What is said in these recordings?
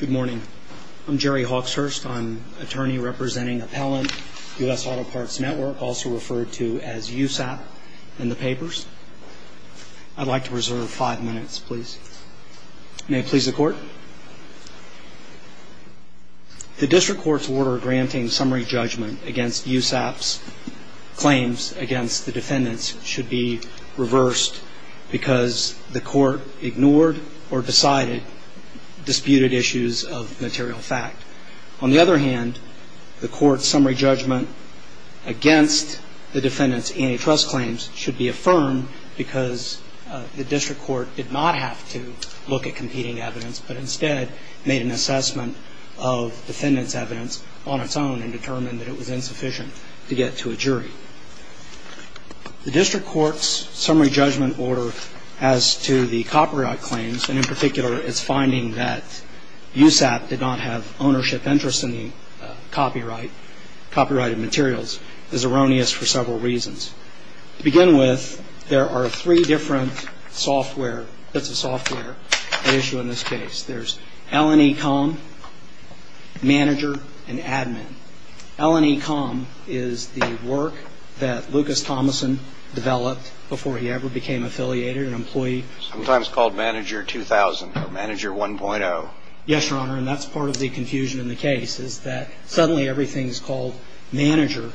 Good morning. I'm Jerry Hawkshurst. I'm an attorney representing Appellant, U.S. Auto Parts Network, also referred to as USAP in the papers. I'd like to reserve five minutes, please. May it please the Court? The District Court's order granting summary judgment against USAP's claims against the defendants should be reversed because the Court ignored or decided, disputed issues of material fact. On the other hand, the Court's summary judgment against the defendants' antitrust claims should be affirmed because the District Court did not have to look at competing evidence, but instead made an assessment of defendants' evidence on its own and determined that it was insufficient to get to a jury. The District Court's summary judgment order as to the copyright claims, and in particular its finding that USAP did not have ownership interest in the copyright, copyrighted materials, is erroneous for several reasons. To begin with, there are three different software, bits of software, at issue in this case. There's LNE.com, Manager, and Admin. LNE.com is the work that Lucas Thomason developed before he ever became affiliated, an employee. Sometimes called Manager 2000 or Manager 1.0. Yes, Your Honor, and that's part of the confusion in the case is that suddenly everything is called Manager,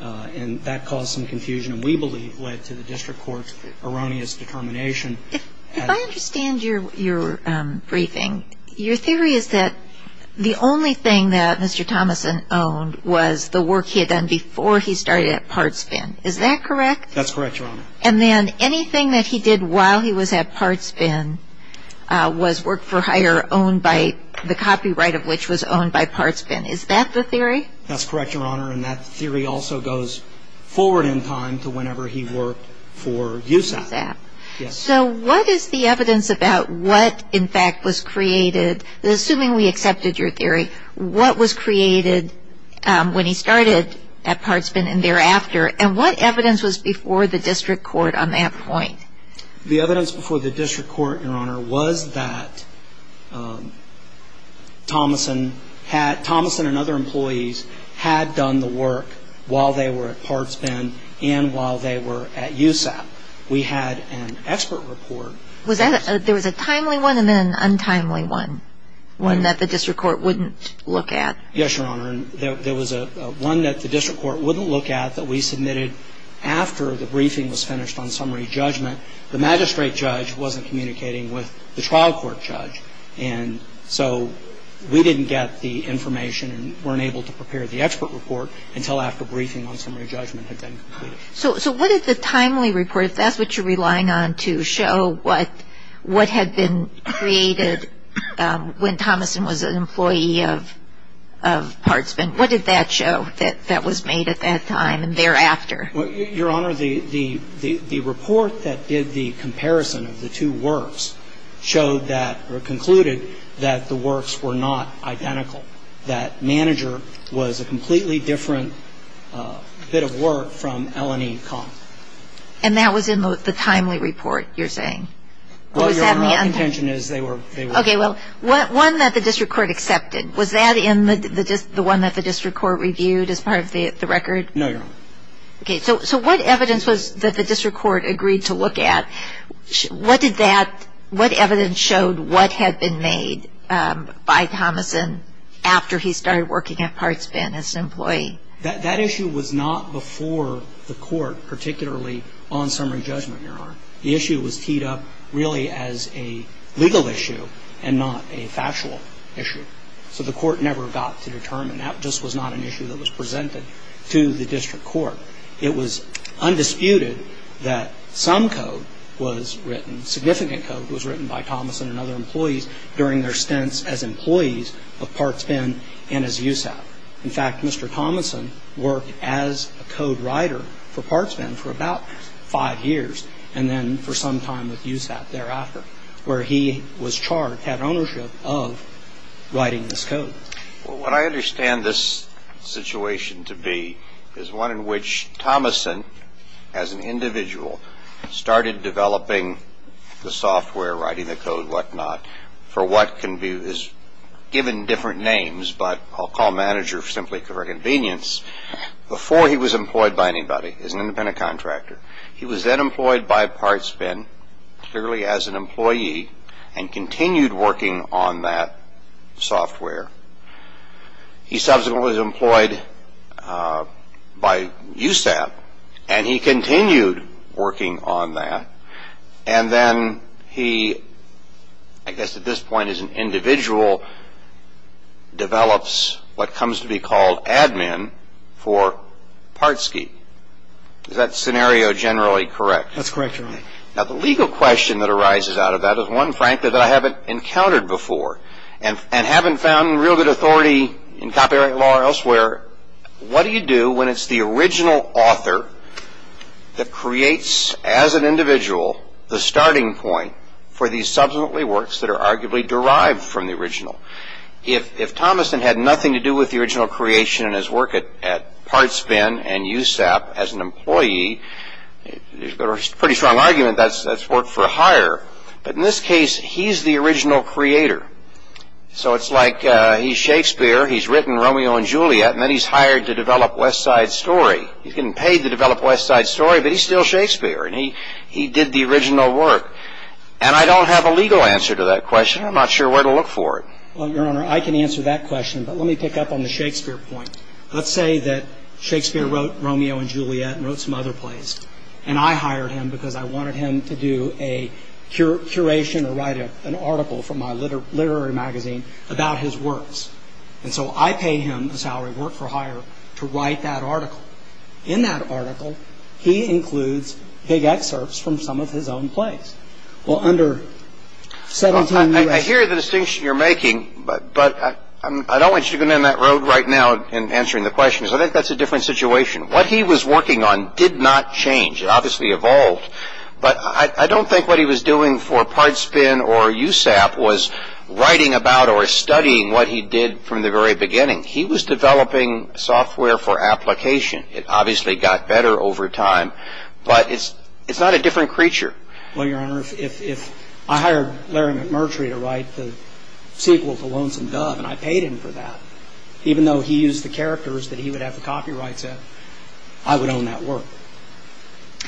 and that caused some confusion and we believe led to the District Court's erroneous determination. If I understand your briefing, your theory is that the only thing that Mr. Thomason owned was the work he had done before he started at Parts Bin. Is that correct? That's correct, Your Honor. And then anything that he did while he was at Parts Bin was Work for Hire, owned by the copyright of which was owned by Parts Bin. Is that the theory? That's correct, Your Honor, and that theory also goes forward in time to whenever he worked for USAP. So what is the evidence about what in fact was created, assuming we accepted your theory, what was created when he started at Parts Bin and thereafter, and what evidence was before the District Court on that point? The evidence before the District Court, Your Honor, was that Thomason and other employees had done the work while they were at Parts Bin and while they were at USAP. We had an expert report. There was a timely one and then an untimely one, one that the District Court wouldn't look at? Yes, Your Honor. There was one that the District Court wouldn't look at that we submitted after the briefing was finished on summary judgment. The magistrate judge wasn't communicating with the trial court judge, and so we didn't get the information and weren't able to prepare the expert report until after briefing on summary judgment had been completed. So what did the timely report, if that's what you're relying on, to show what had been created when Thomason was an employee of Parts Bin? What did that show that was made at that time and thereafter? Your Honor, the report that did the comparison of the two works showed that or concluded that the works were not identical, that Manager was a completely different bit of work from L&E Comp. And that was in the timely report, you're saying? Well, Your Honor, my contention is they were. Okay, well, one that the District Court accepted. Was that in the one that the District Court reviewed as part of the record? No, Your Honor. Okay, so what evidence was that the District Court agreed to look at? What evidence showed what had been made by Thomason after he started working at Parts Bin as an employee? That issue was not before the court, particularly on summary judgment, Your Honor. The issue was teed up really as a legal issue and not a factual issue. So the court never got to determine. That just was not an issue that was presented to the District Court. It was undisputed that some code was written, significant code was written by Thomason and other employees during their stints as employees of Parts Bin and as USAP. In fact, Mr. Thomason worked as a code writer for Parts Bin for about five years and then for some time with USAP thereafter, Well, what I understand this situation to be is one in which Thomason, as an individual, started developing the software, writing the code, what not, for what can be given different names, but I'll call manager simply for convenience, before he was employed by anybody as an independent contractor. He was then employed by Parts Bin clearly as an employee and continued working on that software. He subsequently was employed by USAP and he continued working on that and then he, I guess at this point as an individual, develops what comes to be called admin for Parts Bin. Is that scenario generally correct? That's correct, Your Honor. Now, the legal question that arises out of that is one, frankly, that I haven't encountered before and haven't found real good authority in copyright law or elsewhere. What do you do when it's the original author that creates, as an individual, the starting point for these subsequently works that are arguably derived from the original? If Thomason had nothing to do with the original creation and his work at Parts Bin and USAP as an employee, there's a pretty strong argument that that's work for hire, but in this case he's the original creator. So it's like he's Shakespeare, he's written Romeo and Juliet and then he's hired to develop West Side Story. He's getting paid to develop West Side Story, but he's still Shakespeare and he did the original work and I don't have a legal answer to that question. I'm not sure where to look for it. Well, Your Honor, I can answer that question, but let me pick up on the Shakespeare point. Let's say that Shakespeare wrote Romeo and Juliet and wrote some other plays and I hired him because I wanted him to do a curation or write an article for my literary magazine about his works. And so I pay him the salary, work for hire, to write that article. In that article, he includes big excerpts from some of his own plays. Well, under 17... I hear the distinction you're making, but I don't want you to go down that road right now in answering the questions. I think that's a different situation. What he was working on did not change. It obviously evolved, but I don't think what he was doing for Pard Spin or USAP was writing about or studying what he did from the very beginning. He was developing software for application. It obviously got better over time, but it's not a different creature. Well, Your Honor, if I hired Larry McMurtry to write the sequel to Lonesome Dove and I paid him for that, even though he used the characters that he would have the copyrights at, I would own that work.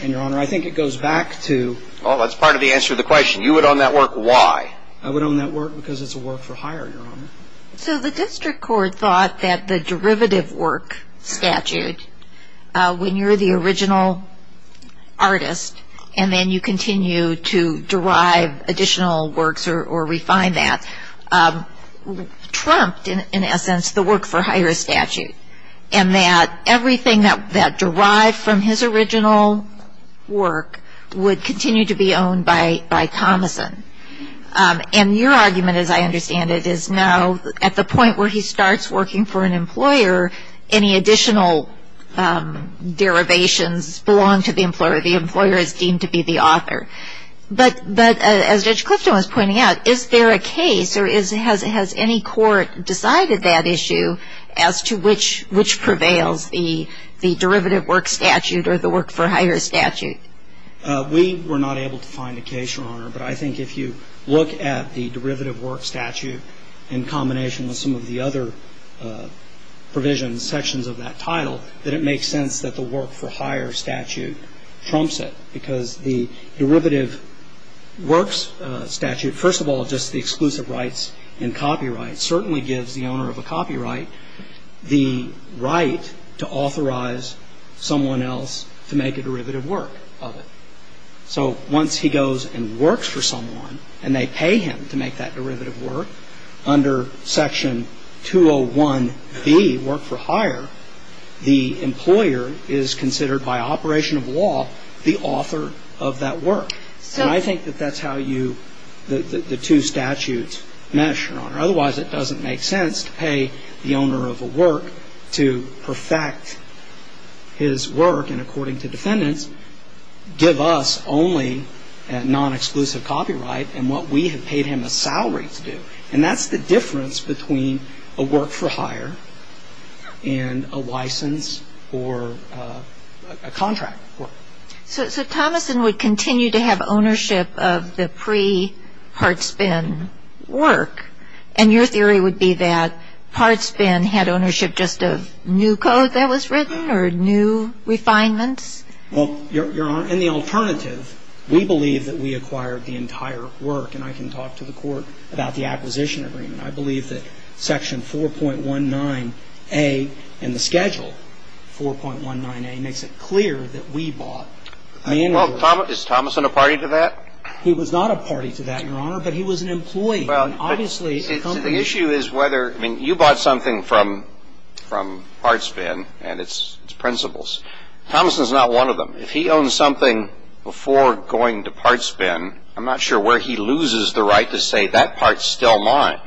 And, Your Honor, I think it goes back to... Well, that's part of the answer to the question. You would own that work. Why? I would own that work because it's a work for hire, Your Honor. So the district court thought that the derivative work statute, when you're the original artist and then you continue to derive additional works or refine that, trumped, in essence, the work for hire statute and that everything that derived from his original work would continue to be owned by Thomason. And your argument, as I understand it, is now at the point where he starts working for an employer, any additional derivations belong to the employer. The employer is deemed to be the author. But as Judge Clifton was pointing out, is there a case or has any court decided that issue as to which prevails, the derivative work statute or the work for hire statute? We were not able to find a case, Your Honor, but I think if you look at the derivative work statute in combination with some of the other provisions, sections of that title, that it makes sense that the work for hire statute trumps it because the derivative works statute, first of all just the exclusive rights and copyright, certainly gives the owner of a copyright the right to authorize someone else to make a derivative work of it. So once he goes and works for someone and they pay him to make that derivative work, under section 201B, work for hire, the employer is considered by operation of law the author of that work. And I think that that's how you, the two statutes mesh, Your Honor. Otherwise, it doesn't make sense to pay the owner of a work to perfect his work and, according to defendants, give us only non-exclusive copyright and what we have paid him a salary to do. And that's the difference between a work for hire and a license or a contract work. So Thomason would continue to have ownership of the pre-part spin work, and your theory would be that part spin had ownership just of new code that was written or new refinements? Well, Your Honor, in the alternative, we believe that we acquired the entire work, and I can talk to the Court about the acquisition agreement. I believe that section 4.19A in the schedule, 4.19A, makes it clear that we bought the annual work. Well, is Thomason a party to that? He was not a party to that, Your Honor, but he was an employee. Well, but the issue is whether, I mean, you bought something from part spin and its principles. Thomason's not one of them. If he owns something before going to part spin, I'm not sure where he loses the right to say, That part's still mine.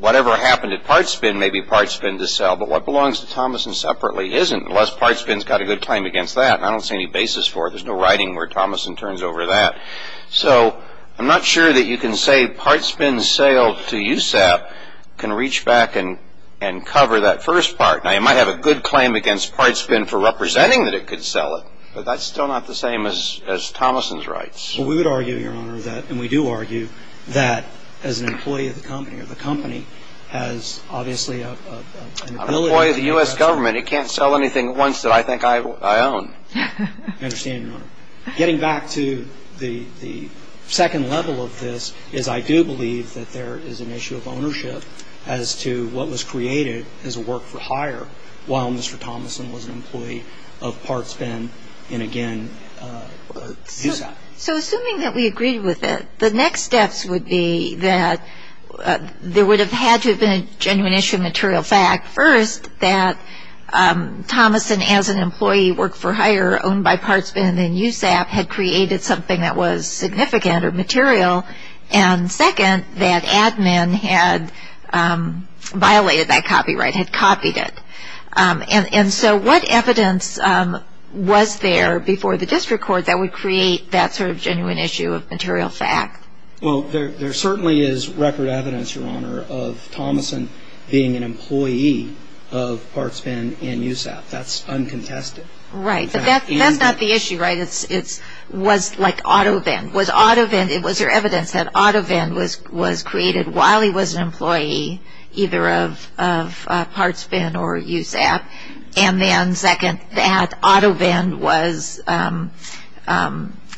Whatever happened at part spin may be part spin to sell, but what belongs to Thomason separately isn't, unless part spin's got a good claim against that, and I don't see any basis for it. There's no writing where Thomason turns over that. So I'm not sure that you can say part spin's sale to USAP can reach back and cover that first part. Now, you might have a good claim against part spin for representing that it could sell it, but that's still not the same as Thomason's rights. Well, we would argue, Your Honor, that, and we do argue that as an employee of the company, or the company has obviously an ability to... I'm an employee of the US government. It can't sell anything at once that I think I own. I understand, Your Honor. is I do believe that there is an issue of ownership as to what was created as a work-for-hire while Mr. Thomason was an employee of part spin and, again, USAP. So assuming that we agreed with it, the next steps would be that there would have had to have been a genuine issue of material fact, first, that Thomason as an employee work-for-hire owned by part spin and USAP had created something that was significant or material, and, second, that admin had violated that copyright, had copied it. And so what evidence was there before the district court that would create that sort of genuine issue of material fact? Well, there certainly is record evidence, Your Honor, of Thomason being an employee of part spin and USAP. That's uncontested. Right, but that's not the issue, right? It was like auto-vend. Was there evidence that auto-vend was created while he was an employee either of part spin or USAP, and then, second, that auto-vend was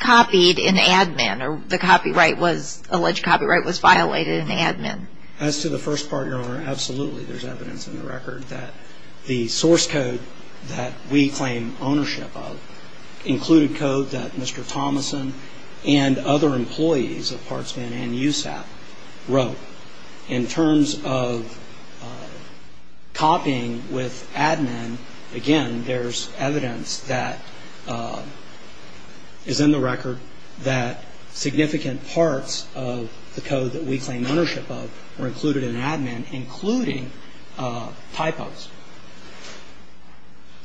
copied in admin or the alleged copyright was violated in admin? As to the first part, Your Honor, absolutely. There's evidence in the record that the source code that we claim ownership of included code that Mr. Thomason and other employees of part spin and USAP wrote. In terms of copying with admin, again, there's evidence that is in the record that significant parts of the code that we claim ownership of were included in admin, including typos.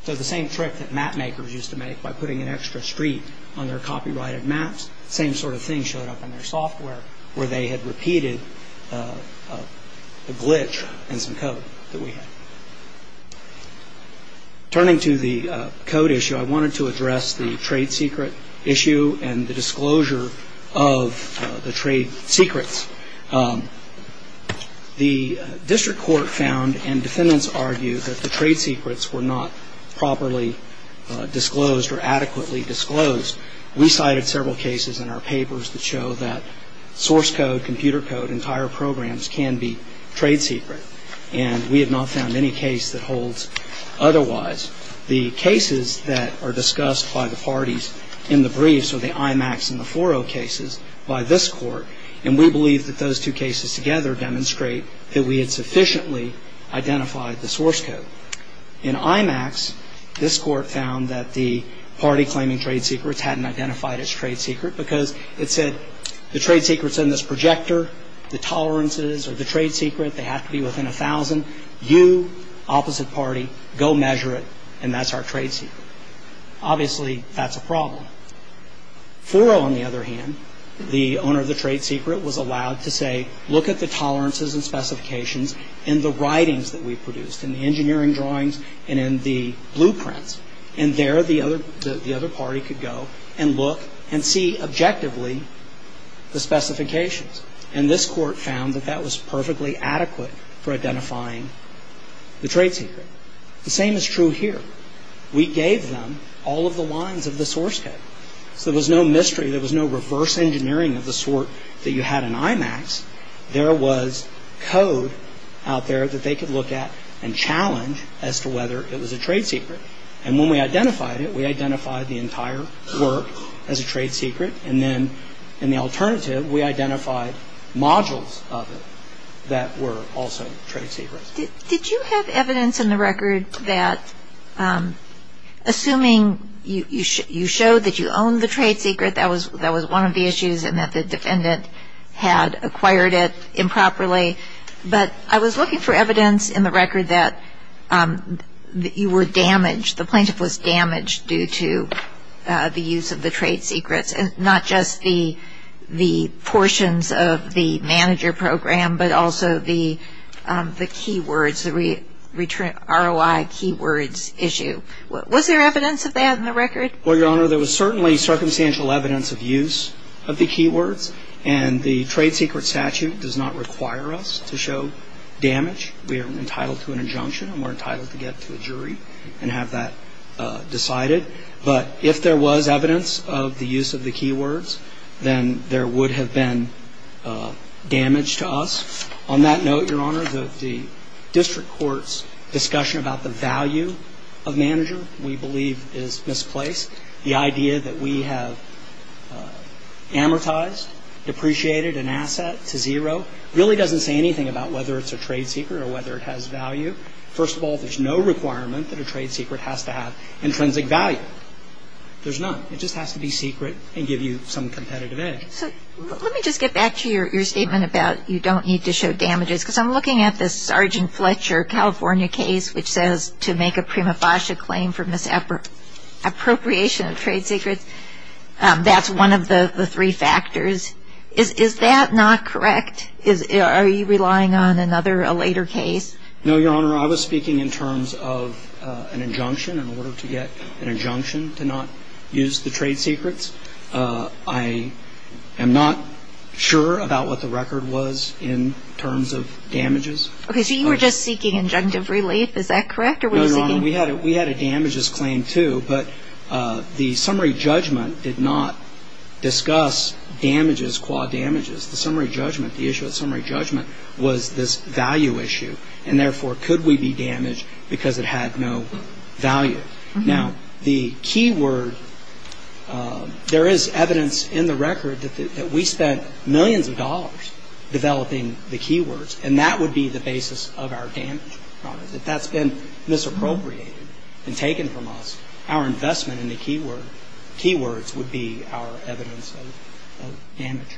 So the same trick that map makers used to make by putting an extra street on their copyrighted maps, same sort of thing showed up in their software where they had repeated the glitch in some code that we had. Turning to the code issue, I wanted to address the trade secret issue and the disclosure of the trade secrets. The district court found and defendants argued that the trade secrets were not properly disclosed or adequately disclosed. We cited several cases in our papers that show that source code, computer code, entire programs can be trade secret, and we have not found any case that holds otherwise. The cases that are discussed by the parties in the briefs or the IMAX and the 4.0 cases by this Court, and we believe that those two cases together demonstrate that we had sufficiently identified the source code. In IMAX, this Court found that the party claiming trade secrets hadn't identified its trade secret because it said the trade secret's in this projector, the tolerances of the trade secret, they have to be within 1,000. You, opposite party, go measure it, and that's our trade secret. Obviously, that's a problem. 4.0, on the other hand, the owner of the trade secret was allowed to say, look at the tolerances and specifications in the writings that we produced, in the engineering drawings and in the blueprints, and there the other party could go and look and see objectively the specifications. And this Court found that that was perfectly adequate for identifying the trade secret. The same is true here. We gave them all of the lines of the source code, so there was no mystery, there was no reverse engineering of the sort that you had in IMAX. There was code out there that they could look at and challenge as to whether it was a trade secret. And when we identified it, we identified the entire work as a trade secret, and then in the alternative, we identified modules of it that were also trade secrets. Did you have evidence in the record that, assuming you showed that you owned the trade secret, that was one of the issues and that the defendant had acquired it improperly, but I was looking for evidence in the record that you were damaged, the plaintiff was damaged due to the use of the trade secrets, and not just the portions of the manager program, but also the keywords, the ROI keywords issue. Was there evidence of that in the record? Well, Your Honor, there was certainly circumstantial evidence of use of the keywords, and the trade secret statute does not require us to show damage. We are entitled to an injunction, and we're entitled to get to a jury and have that decided. But if there was evidence of the use of the keywords, then there would have been damage to us. On that note, Your Honor, the district court's discussion about the value of manager, we believe, is misplaced. The idea that we have amortized, depreciated an asset to zero, really doesn't say anything about whether it's a trade secret or whether it has value. First of all, there's no requirement that a trade secret has to have intrinsic value. There's none. It just has to be secret and give you some competitive edge. So let me just get back to your statement about you don't need to show damages, because I'm looking at this Sergeant Fletcher, California case, which says to make a prima facie claim for misappropriation of trade secrets, that's one of the three factors. Is that not correct? Are you relying on another, a later case? No, Your Honor. Your Honor, I was speaking in terms of an injunction, in order to get an injunction to not use the trade secrets. I am not sure about what the record was in terms of damages. Okay, so you were just seeking injunctive relief. Is that correct? No, Your Honor, we had a damages claim, too, but the summary judgment did not discuss damages, qua damages. The summary judgment, the issue of summary judgment, was this value issue and therefore could we be damaged because it had no value. Now, the keyword, there is evidence in the record that we spent millions of dollars developing the keywords, and that would be the basis of our damage. If that's been misappropriated and taken from us, our investment in the keywords would be our evidence of damage.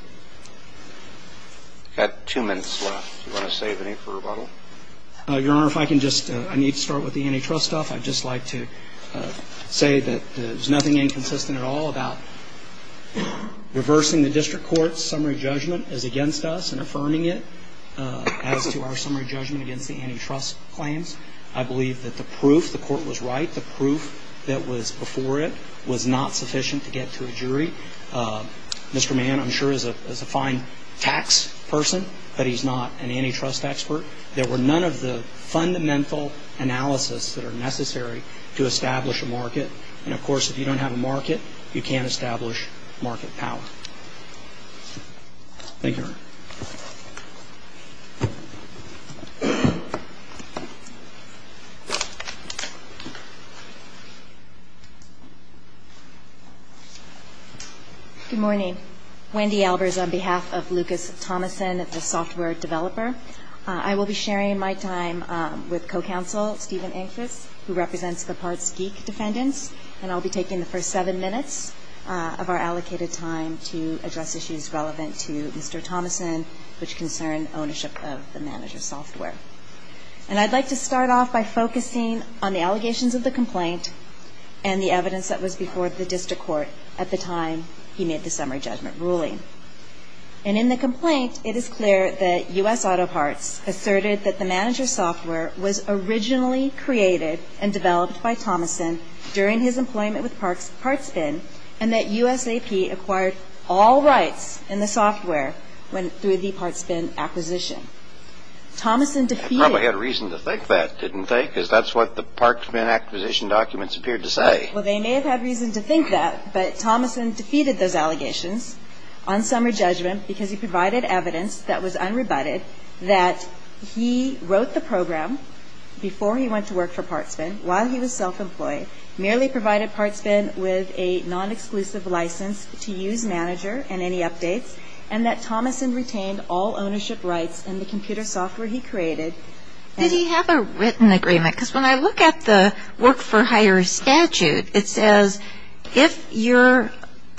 We've got two minutes left. Do you want to save any for rebuttal? Your Honor, if I can just, I need to start with the antitrust stuff. I'd just like to say that there's nothing inconsistent at all about reversing the district court's summary judgment as against us and affirming it as to our summary judgment against the antitrust claims. I believe that the proof, the court was right, the proof that was before it was not sufficient to get to a jury. Mr. Mann, I'm sure, is a fine tax person, but he's not an antitrust expert. There were none of the fundamental analysis that are necessary to establish a market. And, of course, if you don't have a market, you can't establish market power. Thank you, Your Honor. Good morning. Wendy Albers on behalf of Lucas Thomason, the software developer. I will be sharing my time with co-counsel Stephen Ingfus, who represents the Parts Geek defendants, and I'll be taking the first seven minutes of our allocated time to address issues relevant to Mr. Thomason, which concern ownership of the manager's software. And I'd like to start off by focusing on the allegations of the complaint and the evidence that was before the district court at the time he made the summary judgment ruling. And in the complaint, it is clear that U.S. Auto Parts asserted that the manager's software was originally created and developed by Thomason during his employment with Parts Bin and that USAP acquired all rights in the software through the Parts Bin acquisition. Thomason defeated... I probably had reason to think that, didn't I? Because that's what the Parts Bin acquisition documents appeared to say. Well, they may have had reason to think that, but Thomason defeated those allegations on summary judgment because he provided evidence that was unrebutted that he wrote the program before he went to work for Parts Bin while he was self-employed, merely provided Parts Bin with a non-exclusive license to use manager and any updates, and that Thomason retained all ownership rights in the computer software he created. Did he have a written agreement? Because when I look at the work-for-hire statute, it says, if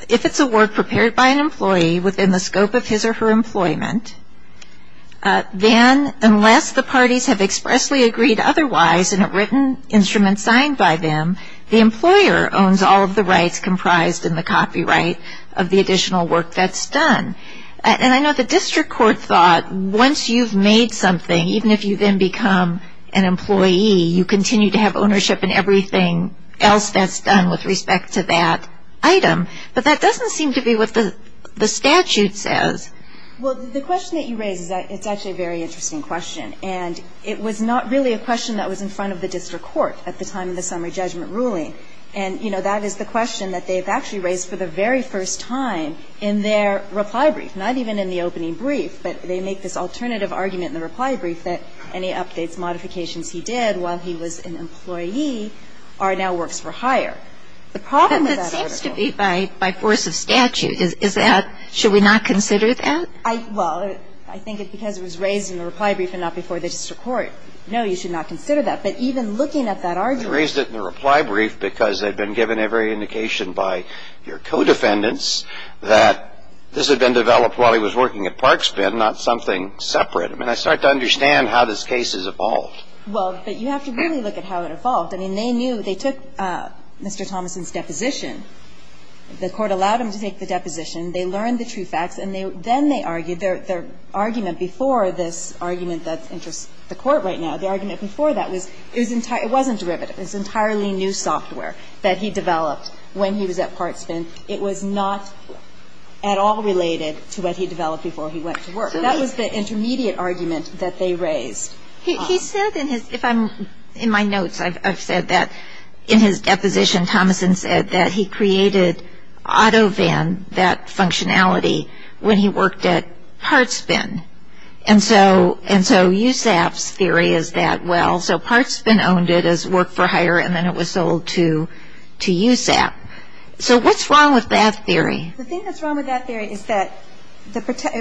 it's a work prepared by an employee within the scope of his or her employment, then unless the parties have expressly agreed otherwise in a written instrument signed by them, the employer owns all of the rights comprised in the copyright of the additional work that's done. And I know the district court thought once you've made something, even if you then become an employee, you continue to have ownership in everything else that's done with respect to that item. But that doesn't seem to be what the statute says. Well, the question that you raise is actually a very interesting question, and it was not really a question that was in front of the district court at the time of the summary judgment ruling. And, you know, that is the question that they've actually raised for the very first time in their reply brief, not even in the opening brief. But they make this alternative argument in the reply brief that any updates, modifications he did while he was an employee are now works-for-hire. The problem with that article ---- But that seems to be by force of statute, is that should we not consider that? Well, I think because it was raised in the reply brief and not before the district court, no, you should not consider that. But even looking at that argument ---- But they raised it in the reply brief because they'd been given every indication by your co-defendants that this had been developed while he was working at Parkspin, not something separate. I mean, I start to understand how this case has evolved. Well, but you have to really look at how it evolved. I mean, they knew they took Mr. Thomason's deposition. The Court allowed him to take the deposition. They learned the true facts, and then they argued their argument before this argument that interests the Court right now. The argument before that was it wasn't derivative. It was entirely new software that he developed when he was at Parkspin. It was not at all related to what he developed before he went to work. That was the intermediate argument that they raised. He said in his ---- If I'm ---- In my notes, I've said that in his deposition, Thomason said that he created AutoVAN, that functionality, when he worked at Parkspin. And so USAP's theory is that, well, so Parkspin owned it as work for hire, and then it was sold to USAP. So what's wrong with that theory? The thing that's wrong with that theory is that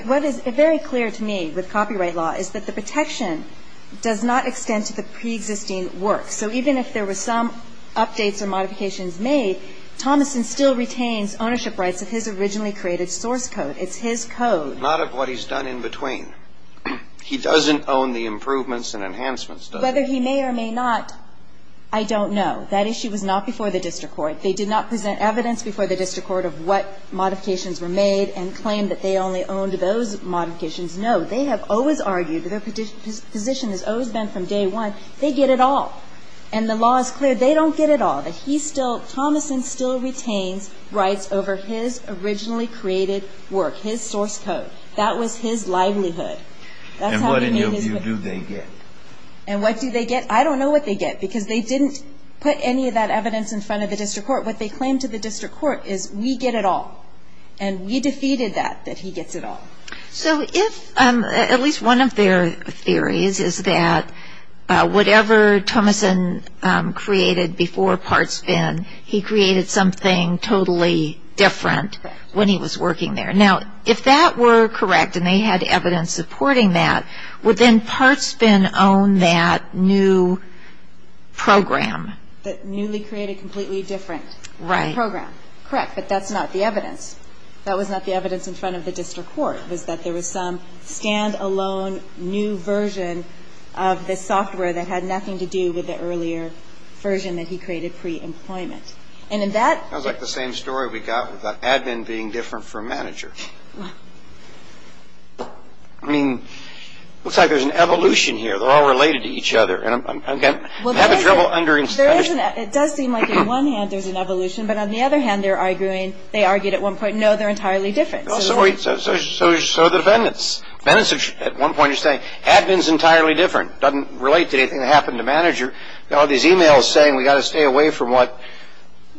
what is very clear to me with copyright law is that the protection does not extend to the preexisting work. So even if there were some updates or modifications made, Thomason still retains ownership rights of his originally created source code. It's his code. Not of what he's done in between. He doesn't own the improvements and enhancements. Whether he may or may not, I don't know. That issue was not before the district court. They did not present evidence before the district court of what modifications were made and claim that they only owned those modifications. No, they have always argued that their position has always been from day one, they get it all. And the law is clear, they don't get it all, but Thomason still retains rights over his originally created work, his source code. That was his livelihood. And what in your view do they get? And what do they get? I don't know what they get because they didn't put any of that evidence in front of the district court. What they claim to the district court is we get it all. And we defeated that, that he gets it all. So if at least one of their theories is that whatever Thomason created before Partsvin, he created something totally different when he was working there. Now, if that were correct and they had evidence supporting that, would then Partsvin own that new program? That newly created, completely different program. Right. Correct, but that's not the evidence. That was not the evidence in front of the district court, was that there was some stand-alone new version of the software that had nothing to do with the earlier version that he created pre-employment. And in that. That was like the same story we got with the admin being different from manager. I mean, it looks like there's an evolution here. They're all related to each other. And, again, I have trouble understanding. It does seem like on one hand there's an evolution, but on the other hand they're arguing, they argued at one point, no, they're entirely different. So are the defendants. At one point you're saying admin's entirely different, doesn't relate to anything that happened to manager. You've got all these e-mails saying we've got to stay away from what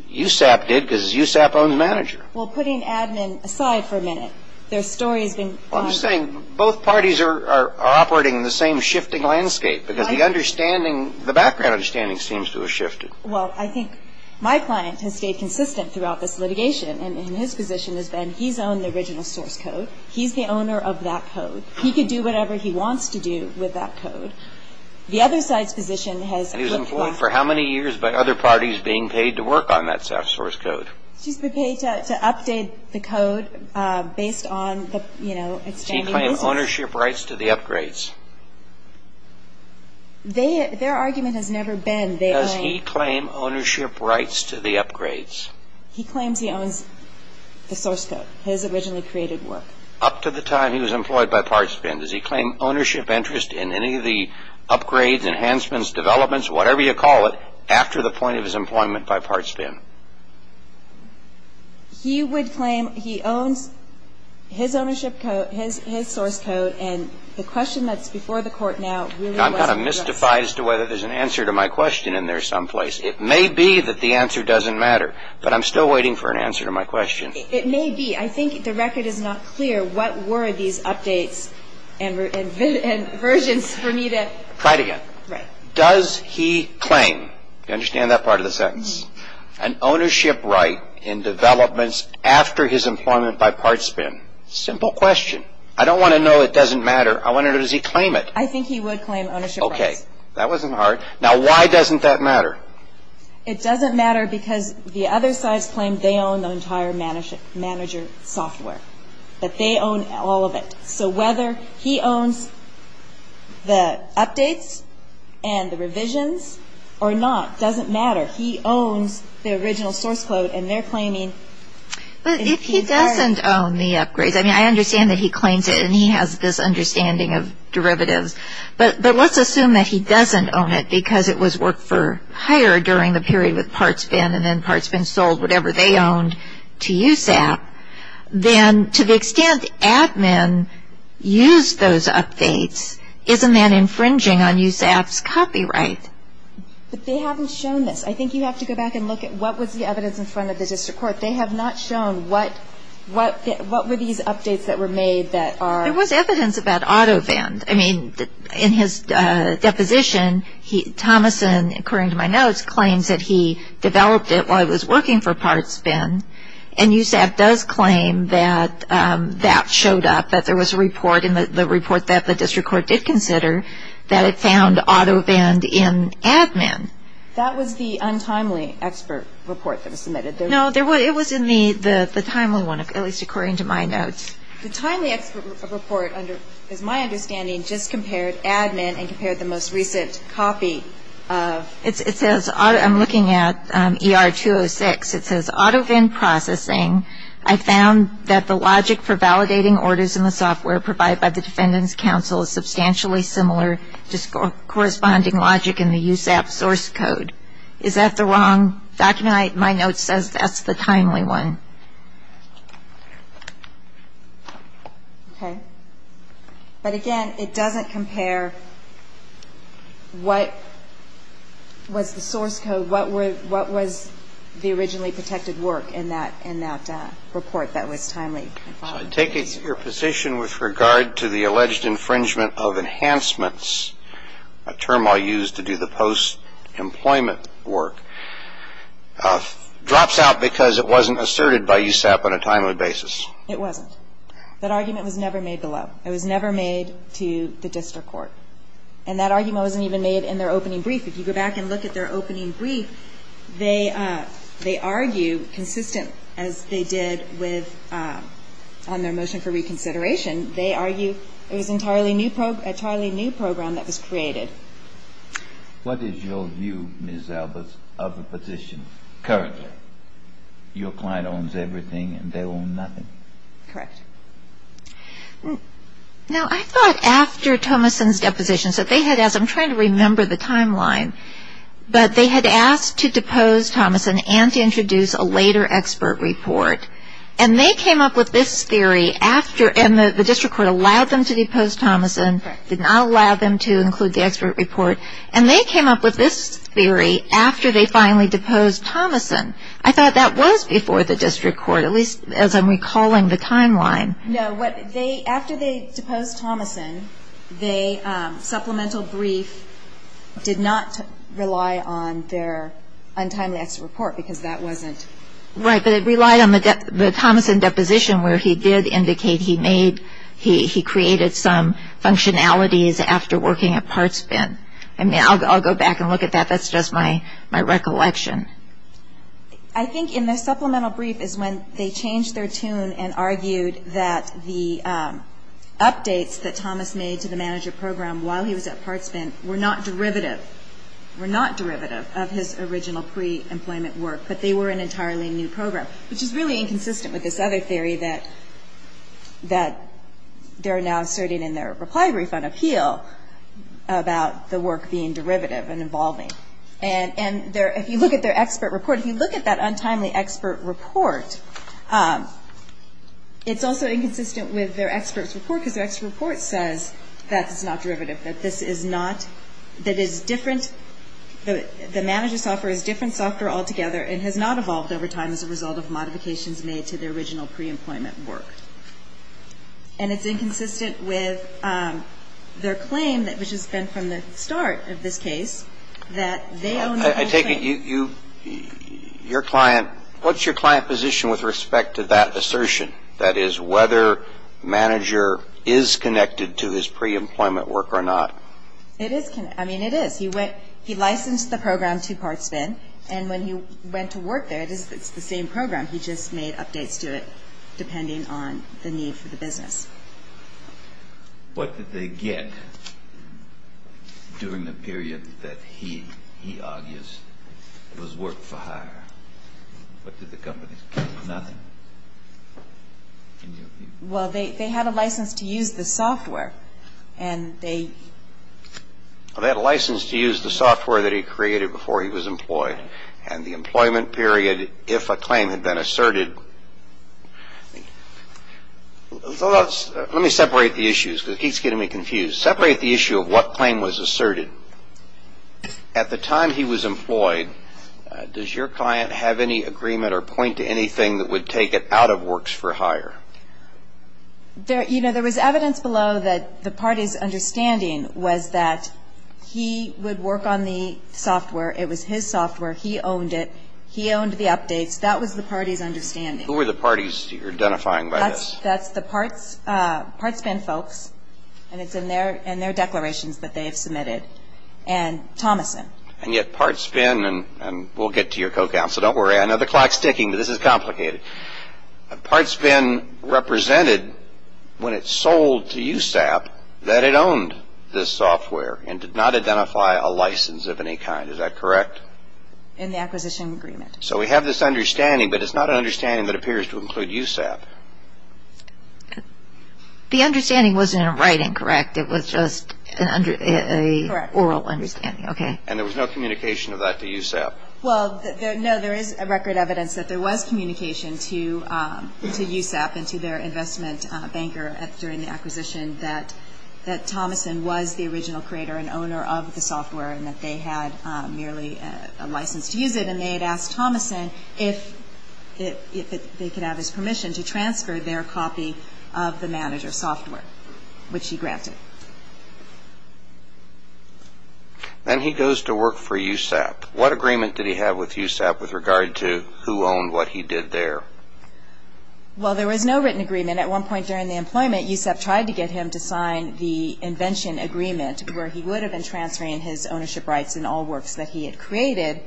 USAP did because USAP owns manager. Well, putting admin aside for a minute, their story has been... Well, I'm just saying both parties are operating in the same shifting landscape because the understanding, the background understanding seems to have shifted. Well, I think my client has stayed consistent throughout this litigation and his position has been he's owned the original source code. He's the owner of that code. He can do whatever he wants to do with that code. The other side's position has... And he's employed for how many years by other parties being paid to work on that source code? She's been paid to update the code based on the, you know, expanding business. Their argument has never been... Does he claim ownership rights to the upgrades? He claims he owns the source code, his originally created work. Up to the time he was employed by Parts Bin, does he claim ownership interest in any of the upgrades, enhancements, developments, whatever you call it, after the point of his employment by Parts Bin? He would claim he owns his ownership code, his source code, and the question that's before the court now really was... I'm trying to mystify as to whether there's an answer to my question in there someplace. It may be that the answer doesn't matter, but I'm still waiting for an answer to my question. It may be. I think the record is not clear what were these updates and versions for me to... Try it again. Right. Does he claim, do you understand that part of the sentence, an ownership right in developments after his employment by Parts Bin? Simple question. I don't want to know it doesn't matter. I want to know does he claim it. I think he would claim ownership rights. Okay. That wasn't hard. Now, why doesn't that matter? It doesn't matter because the other sides claim they own the entire manager software, that they own all of it. So whether he owns the updates and the revisions or not doesn't matter. He owns the original source code and they're claiming... But if he doesn't own the upgrades, I mean, I understand that he claims it and he has this understanding of derivatives, but let's assume that he doesn't own it because it was worked for hire during the period with Parts Bin and then Parts Bin sold whatever they owned to USAP, then to the extent admin used those updates, isn't that infringing on USAP's copyright? But they haven't shown this. I think you have to go back and look at what was the evidence in front of the district court. But they have not shown what were these updates that were made that are... There was evidence about AutoVend. I mean, in his deposition, Thomason, according to my notes, claims that he developed it while he was working for Parts Bin and USAP does claim that that showed up, that there was a report and the report that the district court did consider that it found AutoVend in admin. That was the untimely expert report that was submitted. No, it was in the timely one, at least according to my notes. The timely expert report, as my understanding, just compared admin and compared the most recent copy of... I'm looking at ER-206. It says, AutoVend Processing, I found that the logic for validating orders in the software provided by the Defendant's Counsel is substantially similar to corresponding logic in the USAP source code. Is that the wrong document? My note says that's the timely one. Okay. But again, it doesn't compare what was the source code, what was the originally protected work in that report that was timely. So I take your position with regard to the alleged infringement of enhancements, a term I'll use to do the post-employment work, drops out because it wasn't asserted by USAP on a timely basis. It wasn't. That argument was never made below. It was never made to the district court. And that argument wasn't even made in their opening brief. If you go back and look at their opening brief, they argue, consistent as they did on their motion for reconsideration, they argue it was an entirely new program that was created. What is your view, Ms. Albers, of the position currently? Your client owns everything and they own nothing. Correct. Now, I thought after Thomason's depositions that they had asked, I'm trying to remember the timeline, but they had asked to depose Thomason and to introduce a later expert report. And they came up with this theory after, and the district court allowed them to depose Thomason, did not allow them to include the expert report. And they came up with this theory after they finally deposed Thomason. I thought that was before the district court, at least as I'm recalling the timeline. No. After they deposed Thomason, the supplemental brief did not rely on their untimely expert report because that wasn't. Right. But it relied on the Thomason deposition where he did indicate he made, he created some functionalities after working at Partsbent. I'll go back and look at that. That's just my recollection. I think in the supplemental brief is when they changed their tune and argued that the updates that Thomas made to the manager program while he was at Partsbent were not derivative, were not derivative of his original pre-employment work, but they were an entirely new program, which is really inconsistent with this other theory that they're now asserting in their reply brief on appeal about the work being derivative and involving. And if you look at their expert report, if you look at that untimely expert report, it's also inconsistent with their expert's report because their expert report says that's not derivative, that this is not, that is different, that the manager's software is different software altogether and has not evolved over time as a result of modifications made to the original pre-employment work. And it's inconsistent with their claim, which has been from the start of this case, that they own the whole thing. I take it you, your client, what's your client position with respect to that assertion, that is whether manager is connected to his pre-employment work or not? It is connected. I mean, it is. He licensed the program to Portsmouth, and when he went to work there, it's the same program. He just made updates to it depending on the need for the business. What did they get during the period that he argues was work for hire? What did the companies get? Nothing. Well, they had a license to use the software, and they... Well, they had a license to use the software that he created before he was employed, and the employment period, if a claim had been asserted... Let me separate the issues because it keeps getting me confused. Separate the issue of what claim was asserted. At the time he was employed, does your client have any agreement or point to anything that would take it out of works for hire? You know, there was evidence below that the party's understanding was that he would work on the software. It was his software. He owned it. He owned the updates. That was the party's understanding. Who were the parties you're identifying by this? That's the Partspin folks, and it's in their declarations that they have submitted, and Thomason. And yet Partspin, and we'll get to your co-counsel. Don't worry. I know the clock's ticking, but this is complicated. Partspin represented when it sold to USAP that it owned this software and did not identify a license of any kind. Is that correct? In the acquisition agreement. So we have this understanding, but it's not an understanding that appears to include USAP. The understanding wasn't in writing, correct? It was just an oral understanding. Correct. And there was no communication of that to USAP? Well, no, there is record evidence that there was communication to USAP and to their investment banker during the acquisition that Thomason was the original creator and owner of the software and that they had merely a license to use it, and they had asked Thomason if they could have his permission to transfer their copy of the manager's software, which he granted. Then he goes to work for USAP. What agreement did he have with USAP with regard to who owned what he did there? Well, there was no written agreement. At one point during the employment, USAP tried to get him to sign the invention agreement where he would have been transferring his ownership rights in all works that he had created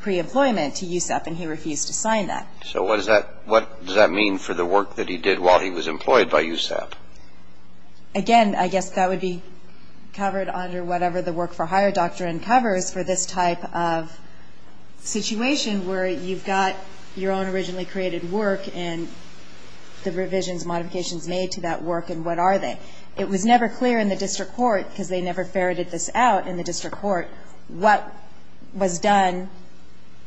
pre-employment to USAP, and he refused to sign that. So what does that mean for the work that he did while he was employed by USAP? Again, I guess that would be covered under whatever the work for hire doctrine covers for this type of situation where you've got your own originally created work and the revisions, modifications made to that work, and what are they? It was never clear in the district court, because they never ferreted this out in the district court, what was done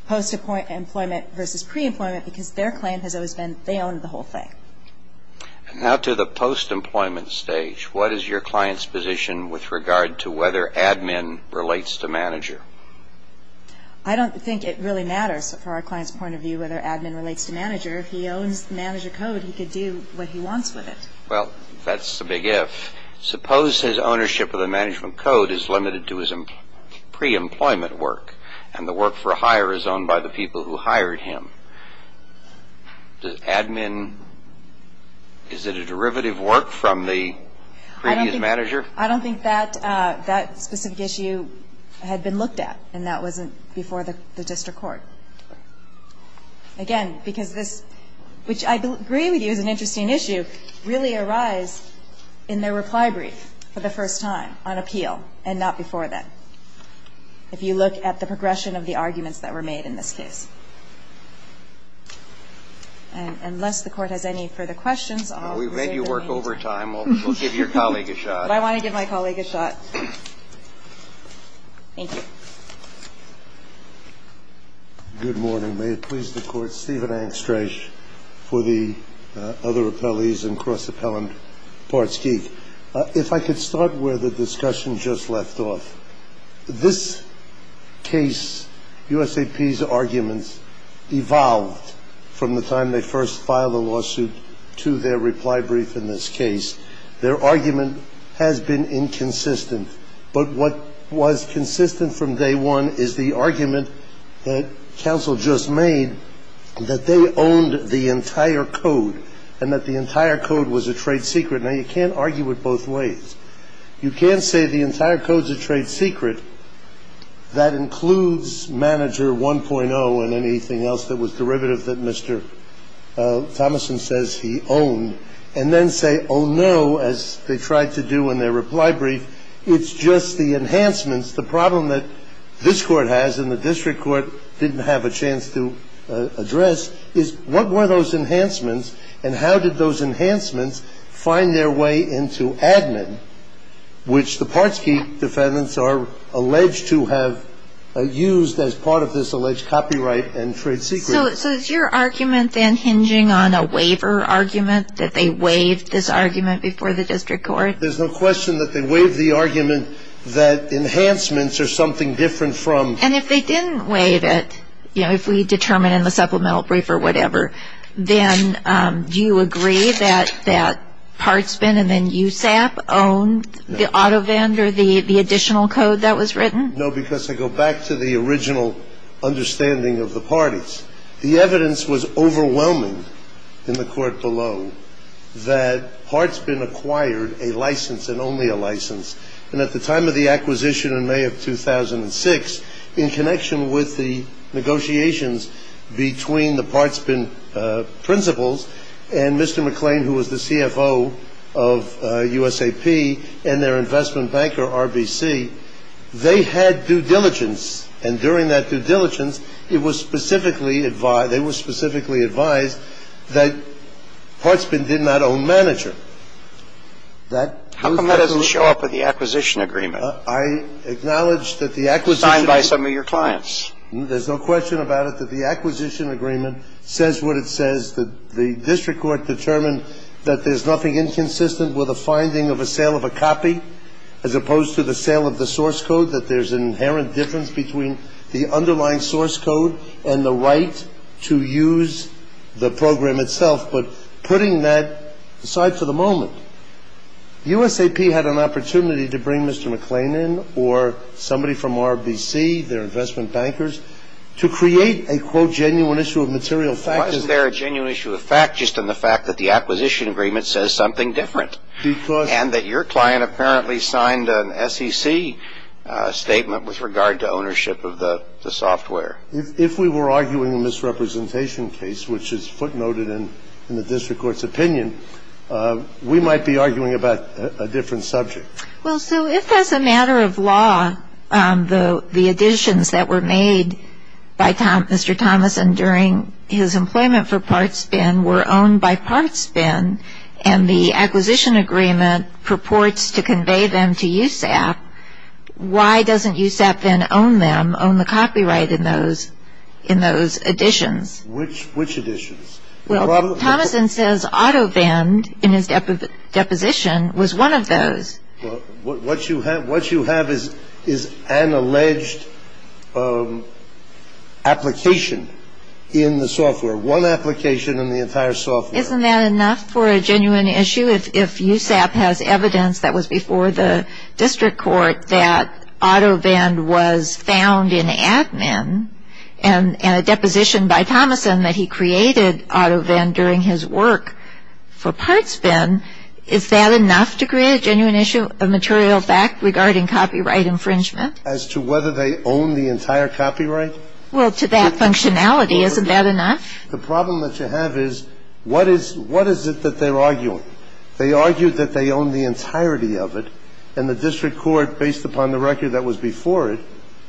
post-employment versus pre-employment because their claim has always been they owned the whole thing. And now to the post-employment stage. What is your client's position with regard to whether admin relates to manager? I don't think it really matters for our client's point of view whether admin relates to manager. If he owns the manager code, he could do what he wants with it. Well, that's the big if. Suppose his ownership of the management code is limited to his pre-employment work, and the work for hire is owned by the people who hired him. Does admin, is it a derivative work from the previous manager? I don't think that specific issue had been looked at, and that wasn't before the district court. Again, because this, which I agree with you is an interesting issue, really arise in their reply brief for the first time on appeal and not before then, if you look at the progression of the arguments that were made in this case. Unless the court has any further questions, I'll reserve the right. We've made you work overtime. We'll give your colleague a shot. But I want to give my colleague a shot. Thank you. Good morning. May it please the Court. Stephen Angstreich for the other appellees and Cross Appellant Parts Geek. If I could start where the discussion just left off. This case, USAP's arguments evolved from the time they first filed a lawsuit to their reply brief in this case. Their argument has been inconsistent. But what was consistent from day one is the argument that counsel just made that they owned the entire code, and that the entire code was a trade secret. Now, you can't argue it both ways. You can't say the entire code's a trade secret. That includes manager 1.0 and anything else that was derivative that Mr. Thomason says he owned, and then say, oh, no, as they tried to do in their reply brief, it's just the enhancements. The problem that this court has and the district court didn't have a chance to address is what were those enhancements, and how did those enhancements find their way into admin, which the Parts Geek defendants are alleged to have used as part of this alleged copyright and trade secret. So is your argument then hinging on a waiver argument, that they waived this argument before the district court? There's no question that they waived the argument that enhancements are something different from. And if they didn't waive it, you know, if we determine in the supplemental brief or whatever, then do you agree that Partsman and then USAP owned the auto vendor, the additional code that was written? No, because I go back to the original understanding of the parties. The evidence was overwhelming in the court below that Partsman acquired a license and only a license, and at the time of the acquisition in May of 2006, in connection with the negotiations between the Partsman principals and Mr. McClain, who was the CFO of USAP, and their investment banker, RBC, they had due diligence. And during that due diligence, it was specifically advised, they were specifically advised that Partsman did not own manager. That was the case. How come that doesn't show up with the acquisition agreement? I acknowledge that the acquisition agreement. Signed by some of your clients. There's no question about it that the acquisition agreement says what it says. The district court determined that there's nothing inconsistent with a finding of a sale of a copy, as opposed to the sale of the source code, that there's an inherent difference between the underlying source code and the right to use the program itself. But putting that aside for the moment, USAP had an opportunity to bring Mr. McClain in, or somebody from RBC, their investment bankers, to create a, quote, genuine issue of material fact. Why is there a genuine issue of fact just in the fact that the acquisition agreement says something different? Because. And that your client apparently signed an SEC statement with regard to ownership of the software. If we were arguing a misrepresentation case, which is footnoted in the district court's opinion, we might be arguing about a different subject. Well, so if as a matter of law, the additions that were made by Mr. Thomas and during his employment for Partsman were owned by Partsman, and the acquisition agreement purports to convey them to USAP, why doesn't USAP then own them, own the copyright in those additions? Which additions? Well, Thomason says AutoVend, in his deposition, was one of those. Well, what you have is an alleged application in the software. One application in the entire software. Isn't that enough for a genuine issue? If USAP has evidence that was before the district court that AutoVend was found in Admin and a deposition by Thomason that he created AutoVend during his work for Partsman, is that enough to create a genuine issue of material fact regarding copyright infringement? As to whether they own the entire copyright? Well, to that functionality, isn't that enough? The problem that you have is what is it that they're arguing? They argue that they own the entirety of it, and the district court, based upon the record that was before it,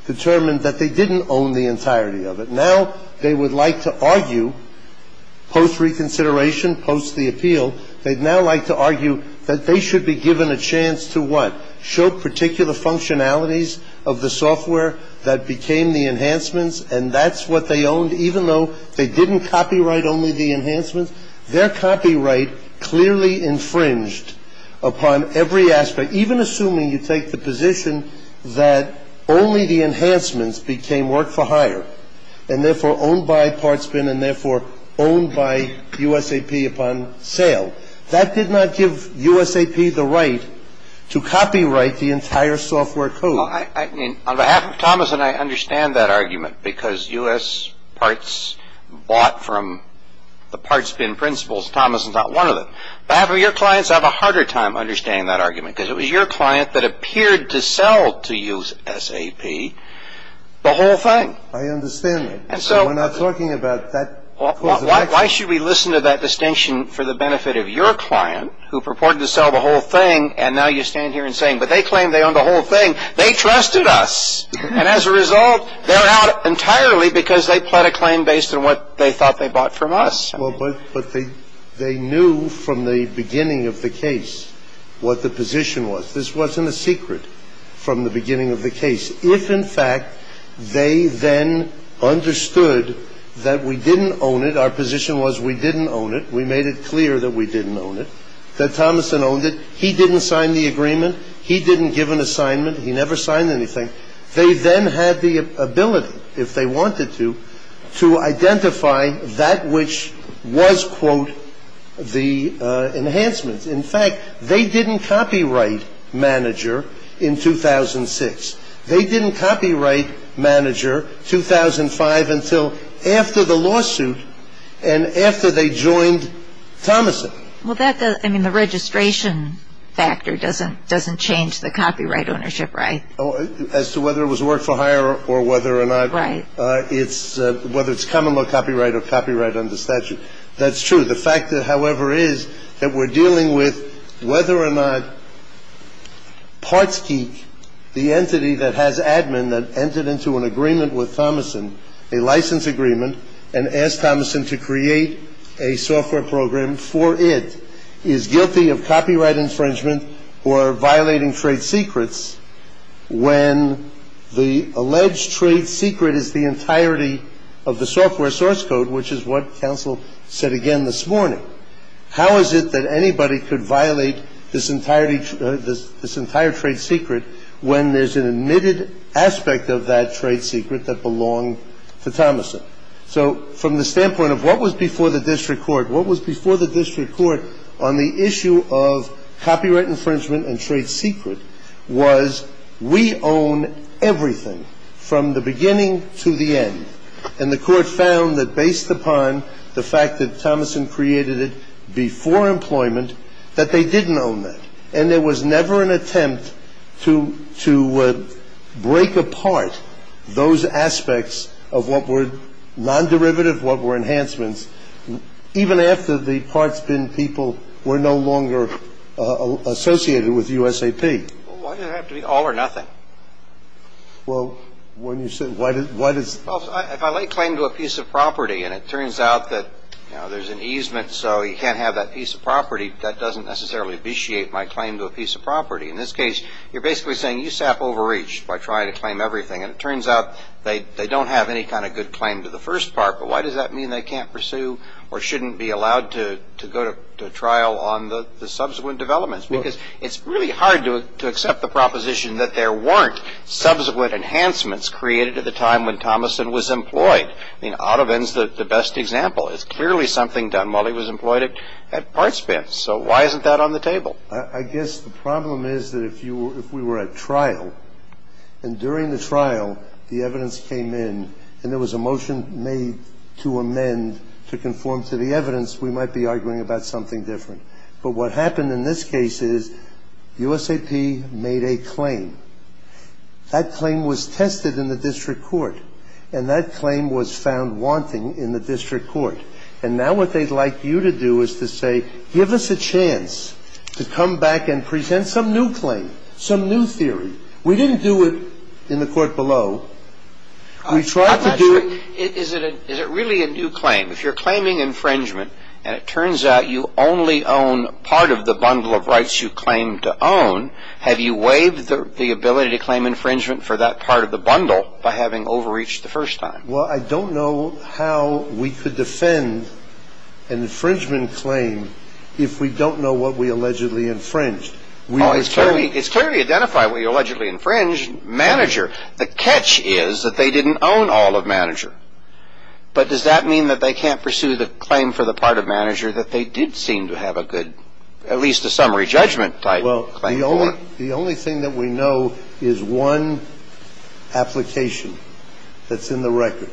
determined that they didn't own the entirety of it. Now they would like to argue, post reconsideration, post the appeal, they'd now like to argue that they should be given a chance to what? Show particular functionalities of the software that became the enhancements, and that's what they owned even though they didn't copyright only the enhancements? Their copyright clearly infringed upon every aspect, even assuming you take the position that only the enhancements became work for hire and therefore owned by Partsman and therefore owned by USAP upon sale. That did not give USAP the right to copyright the entire software code. On behalf of Thomas and I, I understand that argument because US parts bought from the Partsman principles. Thomas is not one of them. On behalf of your clients, I have a harder time understanding that argument because it was your client that appeared to sell to USAP the whole thing. I understand that. We're not talking about that. Why should we listen to that distinction for the benefit of your client who purported to sell the whole thing, and now you're standing here and saying, but they claim they own the whole thing. They trusted us, and as a result, they're out entirely because they pled a claim based on what they thought they bought from us. But they knew from the beginning of the case what the position was. This wasn't a secret from the beginning of the case. If, in fact, they then understood that we didn't own it, our position was we didn't own it, we made it clear that we didn't own it, that Thomason owned it, he didn't sign the agreement, he didn't give an assignment, he never signed anything, they then had the ability, if they wanted to, to identify that which was, quote, the enhancement. In fact, they didn't copyright manager in 2006. They didn't copyright manager 2005 until after the lawsuit and after they joined Thomason. Well, that, I mean, the registration factor doesn't change the copyright ownership, right? As to whether it was work for hire or whether or not it's, whether it's common law copyright or copyright under statute. That's true. The fact, however, is that we're dealing with whether or not PartsGeek, the entity that has admin that entered into an agreement with Thomason, a license agreement, and asked Thomason to create a software program for it, is guilty of copyright infringement or violating trade secrets when the alleged trade secret is the entirety of the software source code, which is what counsel said again this morning. How is it that anybody could violate this entire trade secret when there's an admitted aspect of that trade secret that belonged to Thomason? So from the standpoint of what was before the district court, what was before the district court on the issue of copyright infringement and trade secret was we own everything from the beginning to the end. And the court found that based upon the fact that Thomason created it before employment, that they didn't own that. And there was never an attempt to break apart those aspects of what were non-derivative, what were enhancements, even after the parts bin people were no longer associated with USAP. Well, why did it have to be all or nothing? Well, when you say, why does it? Well, if I lay claim to a piece of property and it turns out that, you know, there's an easement so you can't have that piece of property, that doesn't necessarily abetiate my claim to a piece of property. In this case, you're basically saying USAP overreached by trying to claim everything. And it turns out they don't have any kind of good claim to the first part. But why does that mean they can't pursue or shouldn't be allowed to go to trial on the subsequent developments? Because it's really hard to accept the proposition that there weren't subsequent enhancements created at the time when Thomason was employed. I mean, Ottovin's the best example. It's clearly something done while he was employed at parts bins. So why isn't that on the table? I guess the problem is that if we were at trial and during the trial the evidence came in and there was a motion made to amend to conform to the evidence, we might be arguing about something different. But what happened in this case is USAP made a claim. That claim was tested in the district court. And that claim was found wanting in the district court. And now what they'd like you to do is to say, give us a chance to come back and present some new claim, some new theory. We didn't do it in the court below. We tried to do it. Is it really a new claim? If you're claiming infringement and it turns out you only own part of the bundle of rights you claim to own, have you waived the ability to claim infringement for that part of the bundle by having overreached the first time? Well, I don't know how we could defend an infringement claim if we don't know what we allegedly infringed. It's clearly identified what you allegedly infringed, manager. The catch is that they didn't own all of manager. But does that mean that they can't pursue the claim for the part of manager that they did seem to have a good, at least a summary judgment type claim? Well, the only thing that we know is one application that's in the record.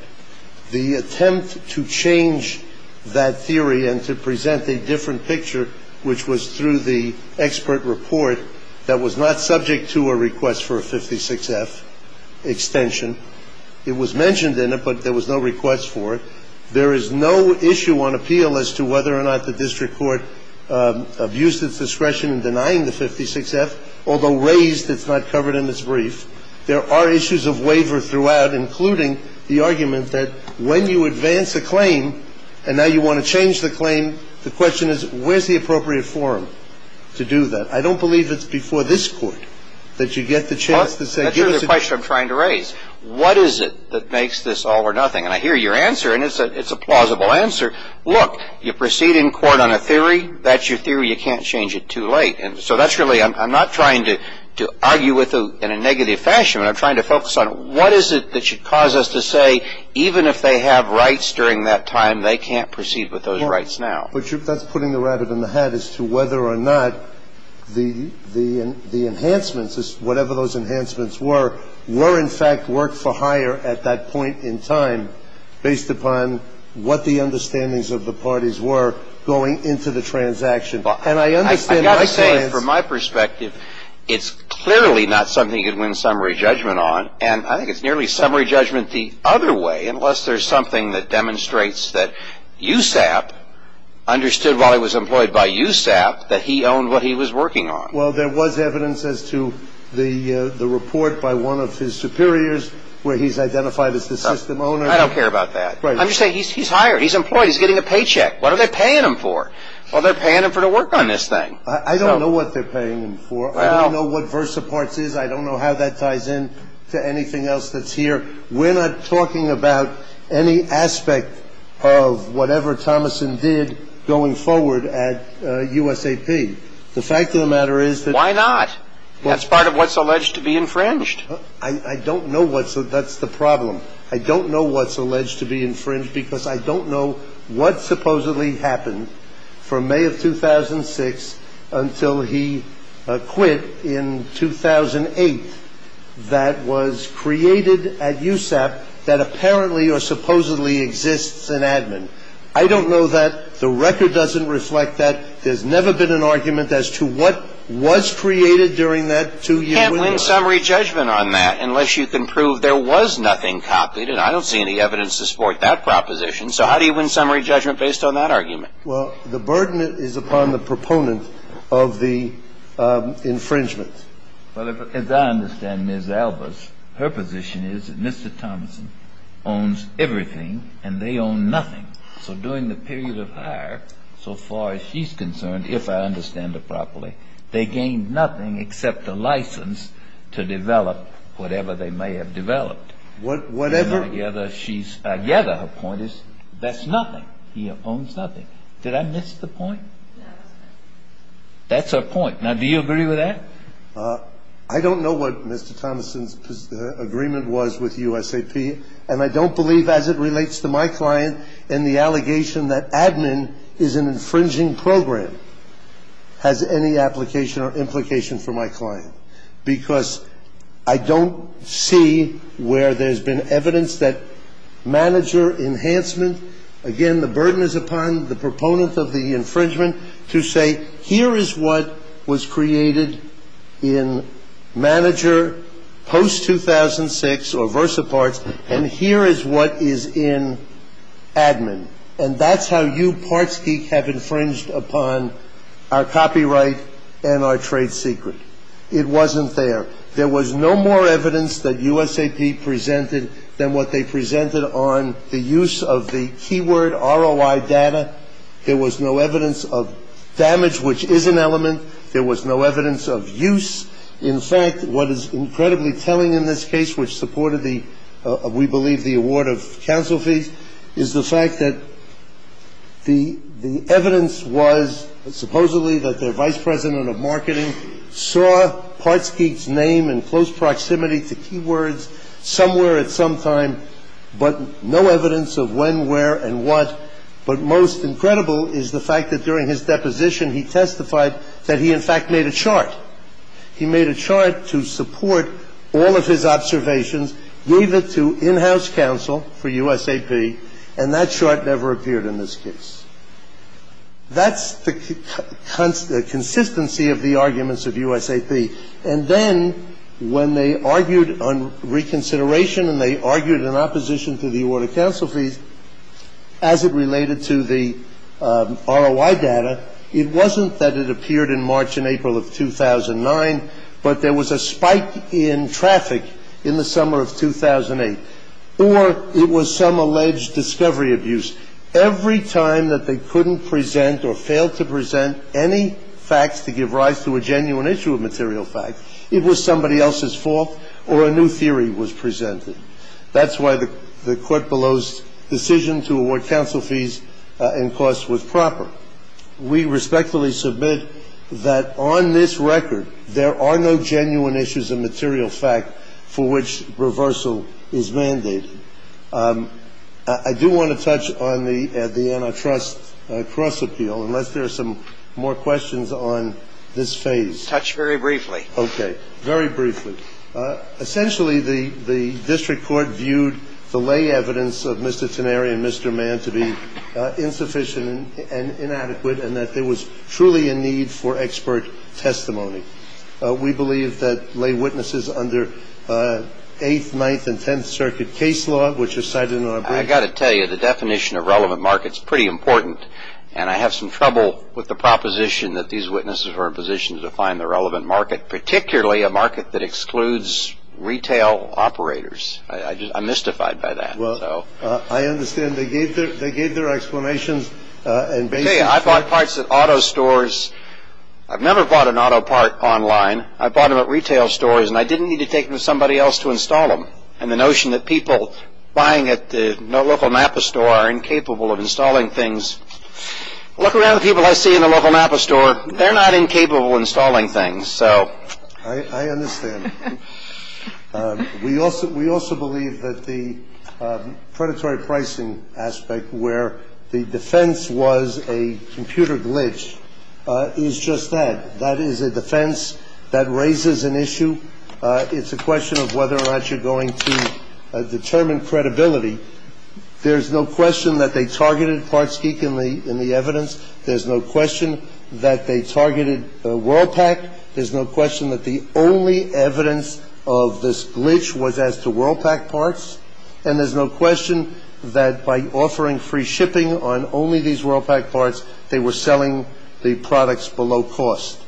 The attempt to change that theory and to present a different picture, which was through the expert report that was not subject to a request for a 56-F extension. It was mentioned in it, but there was no request for it. There is no issue on appeal as to whether or not the district court abused its discretion in denying the 56-F, although raised it's not covered in this brief. There are issues of waiver throughout, including the argument that when you advance a claim and now you want to change the claim, the question is where's the appropriate forum to do that? I don't believe it's before this Court that you get the chance to say give us a ---- That's really the question I'm trying to raise. What is it that makes this all or nothing? And I hear your answer, and it's a plausible answer. Look, you proceed in court on a theory, that's your theory. You can't change it too late. And so that's really ---- I'm not trying to argue in a negative fashion. I'm trying to focus on what is it that should cause us to say even if they have rights during that time, they can't proceed with those rights now. But that's putting the rabbit in the hat as to whether or not the enhancements, whatever those enhancements were, were in fact worked for hire at that point in time based upon what the understandings of the parties were going into the transaction. And I understand my stance ---- I've got to say, from my perspective, it's clearly not something you can win summary judgment on. And I think it's nearly summary judgment the other way, unless there's something that demonstrates that USAP understood while he was employed by USAP that he owned what he was working on. Well, there was evidence as to the report by one of his superiors where he's identified as the system owner. I don't care about that. I'm just saying he's hired. He's employed. He's getting a paycheck. What are they paying him for? Well, they're paying him for the work on this thing. I don't know what they're paying him for. I don't know what VersaParts is. I don't know how that ties in to anything else that's here. We're not talking about any aspect of whatever Thomasson did going forward at USAP. The fact of the matter is that ---- Why not? That's part of what's alleged to be infringed. I don't know what's ---- That's the problem. I don't know what's alleged to be infringed because I don't know what supposedly happened from May of 2006 until he quit in 2008 that was created at USAP that apparently or supposedly exists in admin. I don't know that. The record doesn't reflect that. There's never been an argument as to what was created during that two-year window. You can't win summary judgment on that unless you can prove there was nothing copied, and I don't see any evidence to support that proposition. So how do you win summary judgment based on that argument? Well, the burden is upon the proponent of the infringement. Well, as I understand Ms. Albers, her position is that Mr. Thomasson owns everything and they own nothing. So during the period of her, so far as she's concerned, if I understand it properly, they gained nothing except a license to develop whatever they may have developed. Whatever? I gather her point is that's nothing. He owns nothing. Did I miss the point? That's her point. Now, do you agree with that? I don't know what Mr. Thomasson's agreement was with USAP, and I don't believe as it relates to my client in the allegation that admin is an infringing program. I don't believe that admin has any application or implication for my client because I don't see where there's been evidence that manager enhancement. Again, the burden is upon the proponent of the infringement to say here is what was created in manager post-2006 or versa parts, and here is what is in admin. And that's how you parts geek have infringed upon our copyright and our trade secret. It wasn't there. There was no more evidence that USAP presented than what they presented on the use of the keyword ROI data. There was no evidence of damage, which is an element. There was no evidence of use. In fact, what is incredibly telling in this case, which supported the, we believe, the award of counsel fees, is the fact that the evidence was supposedly that their vice president of marketing saw parts geek's name in close proximity to keywords somewhere at some time, but no evidence of when, where, and what. But most incredible is the fact that during his deposition, he testified that he, in fact, made a chart. He made a chart to support all of his observations, gave it to in-house counsel for USAP, and that chart never appeared in this case. That's the consistency of the arguments of USAP. And then when they argued on reconsideration and they argued in opposition to the award of counsel fees, as it related to the ROI data, it wasn't that it appeared in March and April of 2009, but there was a spike in traffic in the summer of 2008. Or it was some alleged discovery abuse. Every time that they couldn't present or failed to present any facts to give rise to a genuine issue of material fact, it was somebody else's fault or a new theory was presented. That's why the court below's decision to award counsel fees and costs was proper. We respectfully submit that on this record, there are no genuine issues of material fact for which reversal is mandated. I do want to touch on the antitrust cross-appeal, unless there are some more questions on this phase. Touch very briefly. Okay. Very briefly. Thank you. Essentially, the district court viewed the lay evidence of Mr. Teneri and Mr. Mann to be insufficient and inadequate, and that there was truly a need for expert testimony. We believe that lay witnesses under Eighth, Ninth, and Tenth Circuit case law, which are cited in our brief. I've got to tell you, the definition of relevant market is pretty important, and I have some trouble with the proposition that these witnesses are in a position to define the relevant market, particularly a market that excludes retail operators. I'm mystified by that. Well, I understand they gave their explanations. I bought parts at auto stores. I've never bought an auto part online. I bought them at retail stores, and I didn't need to take them to somebody else to install them. And the notion that people buying at the local Napa store are incapable of installing things. Look around the people I see in the local Napa store. They're not incapable of installing things, so. I understand. We also believe that the predatory pricing aspect where the defense was a computer glitch is just that. That is a defense that raises an issue. It's a question of whether or not you're going to determine credibility. There's no question that they targeted Parts Geek in the evidence. There's no question that they targeted WorldPak. There's no question that the only evidence of this glitch was as to WorldPak parts. And there's no question that by offering free shipping on only these WorldPak parts, they were selling the products below cost.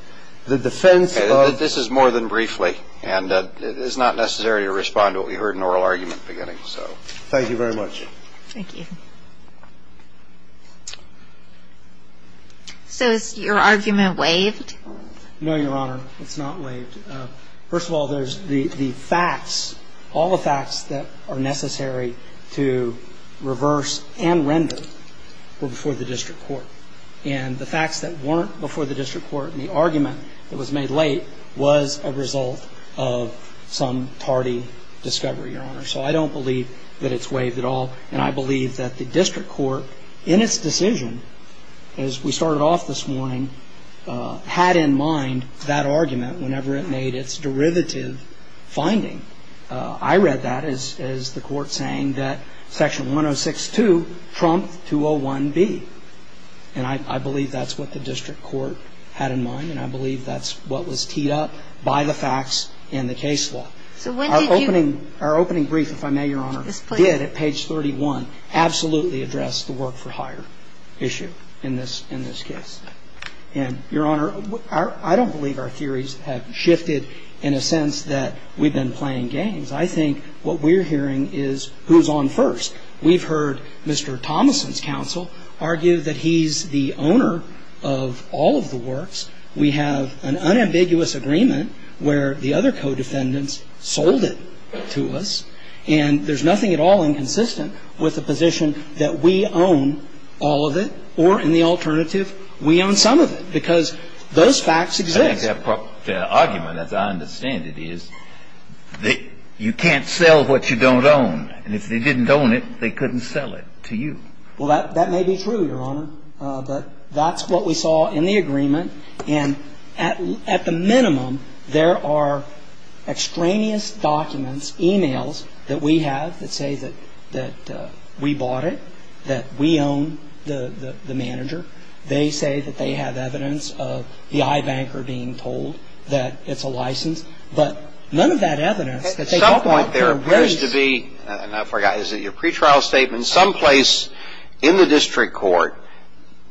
The defense of this is more than briefly, and it is not necessary to respond to what we heard in oral argument beginning, so. Thank you very much. Thank you. So is your argument waived? No, Your Honor. It's not waived. First of all, there's the facts. All the facts that are necessary to reverse and render were before the district court. And the facts that weren't before the district court and the argument that was made late was a result of some tardy discovery, Your Honor. So I don't believe that it's waived at all. And I believe that the district court, in its decision, as we started off this morning, had in mind that argument whenever it made its derivative finding. I read that as the court saying that Section 106.2 trumped 201B. And I believe that's what the district court had in mind, and I believe that's what was teed up by the facts in the case law. So when did you? Our opening brief, if I may, Your Honor. Yes, please. Did, at page 31, absolutely address the work-for-hire issue in this case. And, Your Honor, I don't believe our theories have shifted in a sense that we've been playing games. I think what we're hearing is who's on first. We've heard Mr. Thomason's counsel argue that he's the owner of all of the works. We have an unambiguous agreement where the other co-defendants sold it to us. And there's nothing at all inconsistent with the position that we own all of it or, in the alternative, we own some of it, because those facts exist. I think that argument, as I understand it, is that you can't sell what you don't own. And if they didn't own it, they couldn't sell it to you. Well, that may be true, Your Honor. But that's what we saw in the agreement. And at the minimum, there are extraneous documents, e-mails, that we have that say that we bought it, that we own the manager. They say that they have evidence of the iBanker being told that it's a license. But none of that evidence that they can point to are very specific. At some point, there appears to be, and I forgot, is it your pretrial statement, in some place in the district court,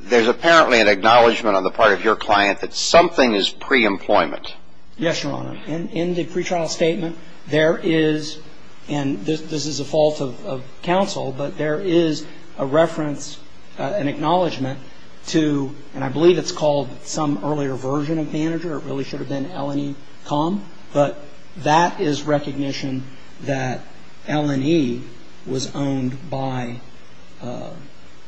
there's apparently an acknowledgment on the part of your client that something is pre-employment. Yes, Your Honor. In the pretrial statement, there is, and this is a fault of counsel, but there is a reference, an acknowledgment to, and I believe it's called some earlier version of manager, it really should have been L&E Com, but that is recognition that L&E was owned by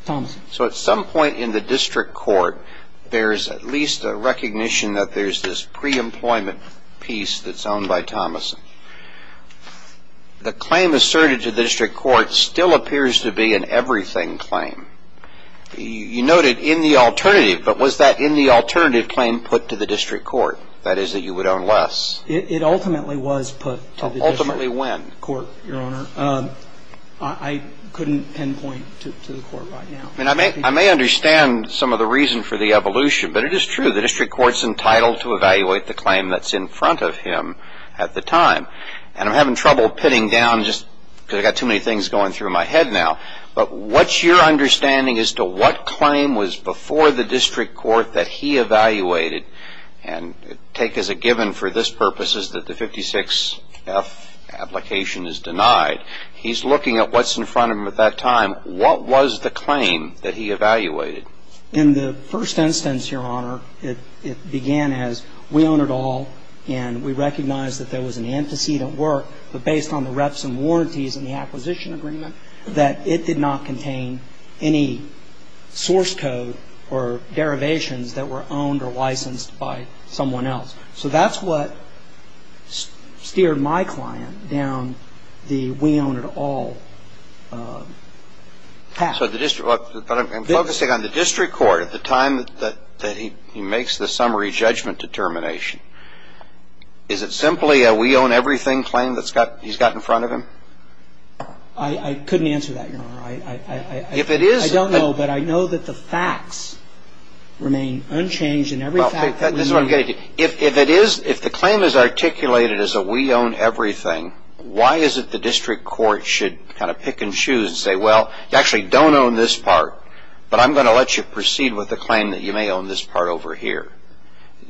Thomason. So at some point in the district court, there's at least a recognition that there's this pre-employment piece that's owned by Thomason. The claim asserted to the district court still appears to be an everything claim. You noted in the alternative, but was that in the alternative claim put to the district court, that is that you would own less? It ultimately was put to the district court, Your Honor. Ultimately when? I couldn't pinpoint to the court right now. I mean, I may understand some of the reason for the evolution, but it is true. The district court's entitled to evaluate the claim that's in front of him at the time. And I'm having trouble pitting down just because I've got too many things going through my head now. But what's your understanding as to what claim was before the district court that he evaluated? And take as a given for this purpose is that the 56F application is denied. He's looking at what's in front of him at that time. What was the claim that he evaluated? In the first instance, Your Honor, it began as we own it all, and we recognize that there was an antecedent work, but based on the reps and warranties and the acquisition agreement, that it did not contain any source code or derivations that were owned or licensed by someone else. So that's what steered my client down the we own it all path. But I'm focusing on the district court at the time that he makes the summary judgment determination. Is it simply a we own everything claim that he's got in front of him? I couldn't answer that, Your Honor. If it is. I don't know, but I know that the facts remain unchanged in every fact that we know. If the claim is articulated as a we own everything, why is it the district court should kind of pick and choose and say, well, you actually don't own this part, but I'm going to let you proceed with the claim that you may own this part over here?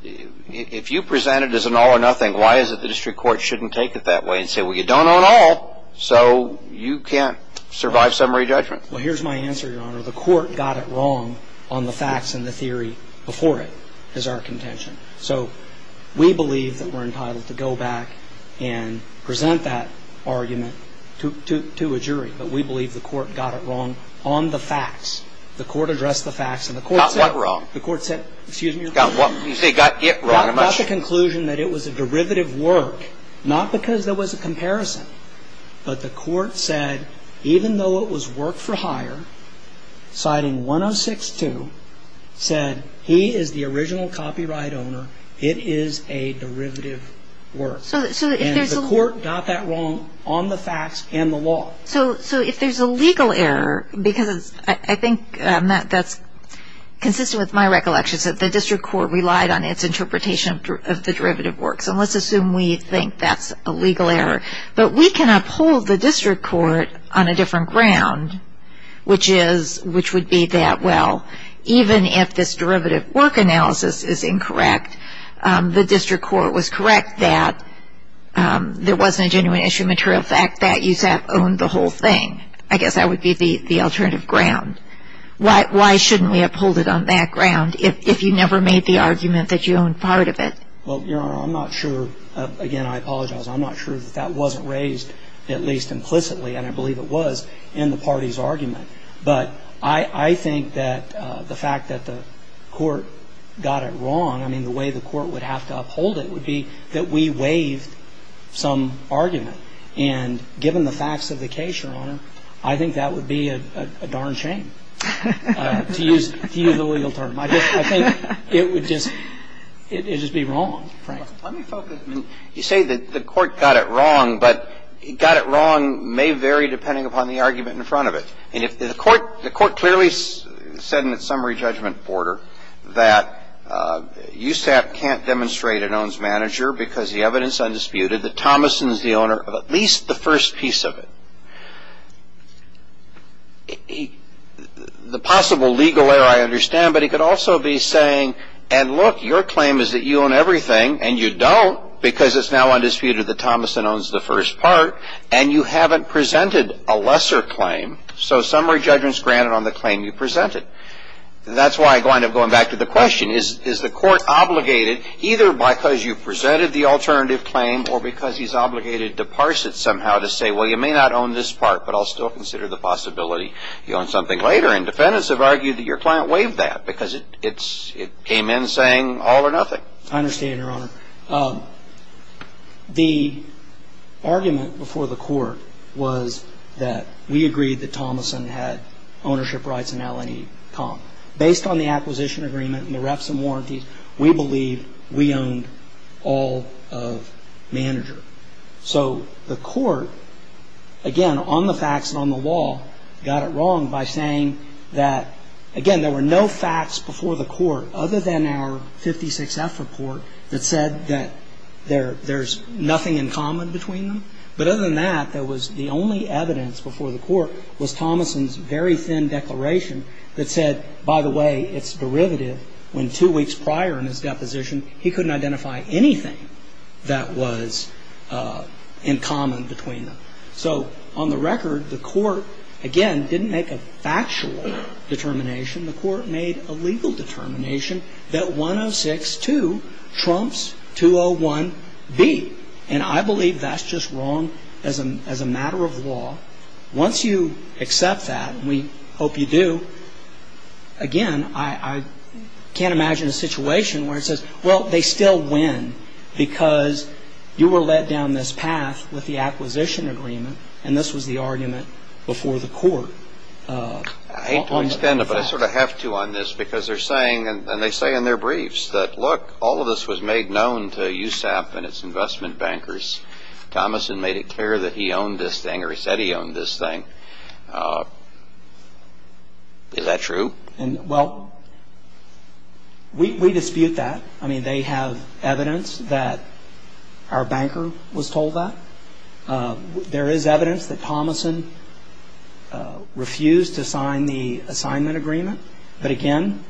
If you present it as an all or nothing, why is it the district court shouldn't take it that way and say, well, you don't own all, so you can't survive summary judgment? Well, here's my answer, Your Honor. The court got it wrong on the facts and the theory before it as our contention. So we believe that we're entitled to go back and present that argument to a jury, but we believe the court got it wrong on the facts. The court addressed the facts and the court said. Got what wrong? The court said. Excuse me. You say got it wrong. Got the conclusion that it was a derivative work, not because there was a comparison, but the court said even though it was work for hire, citing 106-2 said he is the original copyright owner, it is a derivative work. So if there's a. And the court got that wrong on the facts and the law. So if there's a legal error, because I think that's consistent with my recollections, that the district court relied on its interpretation of the derivative work. So let's assume we think that's a legal error. But we can uphold the district court on a different ground, which would be that, well, even if this derivative work analysis is incorrect, the district court was correct that there wasn't a genuine issue material. But the fact that USAP owned the whole thing, I guess that would be the alternative ground. Why shouldn't we uphold it on that ground if you never made the argument that you owned part of it? Well, Your Honor, I'm not sure. Again, I apologize. I'm not sure that that wasn't raised at least implicitly, and I believe it was, in the party's argument. But I think that the fact that the court got it wrong, I mean, the way the court would have to uphold it would be that we waived some argument. And given the facts of the case, Your Honor, I think that would be a darn shame to use the legal term. I think it would just be wrong, frankly. Let me focus. You say that the court got it wrong, but got it wrong may vary depending upon the argument in front of it. The court clearly said in its summary judgment order that USAP can't demonstrate it owns manager because the evidence is undisputed that Thomason is the owner of at least the first piece of it. The possible legal error, I understand, but it could also be saying, and look, your claim is that you own everything, and you don't because it's now undisputed that Thomason owns the first part, and you haven't presented a lesser claim. So summary judgment's granted on the claim you presented. That's why I wind up going back to the question, is the court obligated either because you presented the alternative claim or because he's obligated to parse it somehow to say, well, you may not own this part, but I'll still consider the possibility you own something later. And defendants have argued that your client waived that because it came in saying all or nothing. I understand, Your Honor. The argument before the court was that we agreed that Thomason had ownership rights in L&E Comp. Based on the acquisition agreement and the reps and warranties, we believe we owned all of manager. So the court, again, on the facts and on the law, got it wrong by saying that, again, there were no facts before the court other than our 56F report that said that there's nothing in common between them. But other than that, there was the only evidence before the court was Thomason's very thin declaration that said, by the way, it's derivative, when two weeks prior in his deposition, he couldn't identify anything that was in common between them. So on the record, the court, again, didn't make a factual determination. The court made a legal determination that 106-2 trumps 201-B. And I believe that's just wrong as a matter of law. Once you accept that, and we hope you do, again, I can't imagine a situation where it says, well, they still win because you were led down this path with the acquisition agreement, and this was the argument before the court. I hate to extend it, but I sort of have to on this because they're saying, and they say in their briefs, that, look, all of this was made known to USAP and its investment bankers. Thomason made it clear that he owned this thing or he said he owned this thing. Is that true? And, well, we dispute that. I mean, they have evidence that our banker was told that. There is evidence that Thomason refused to sign the assignment agreement. But, again,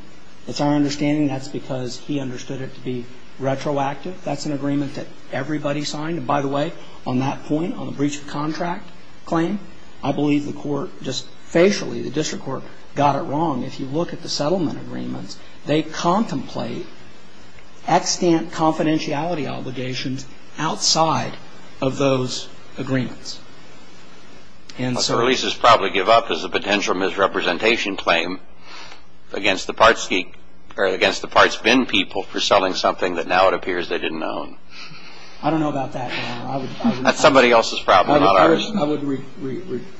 it's our understanding that's because he understood it to be retroactive. That's an agreement that everybody signed. And, by the way, on that point, on the breach of contract claim, I believe the court just facially, the district court, got it wrong. If you look at the settlement agreements, they contemplate extant confidentiality obligations outside of those agreements. The releases probably give up as a potential misrepresentation claim against the parts or against the parts bin people for selling something that now it appears they didn't own. I don't know about that. That's somebody else's problem, not ours. I would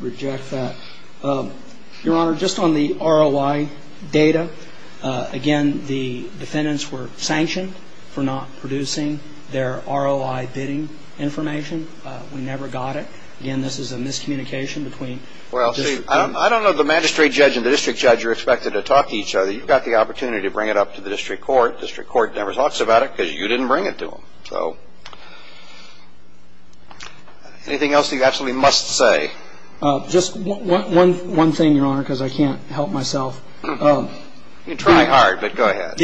reject that. Your Honor, just on the ROI data, again, the defendants were sanctioned for not producing their ROI bidding information. We never got it. Again, this is a miscommunication between district and district. Well, see, I don't know the magistrate judge and the district judge are expected to talk to each other. You've got the opportunity to bring it up to the district court. District court never talks about it because you didn't bring it to them. So anything else that you absolutely must say? Just one thing, Your Honor, because I can't help myself. You can try hard, but go ahead.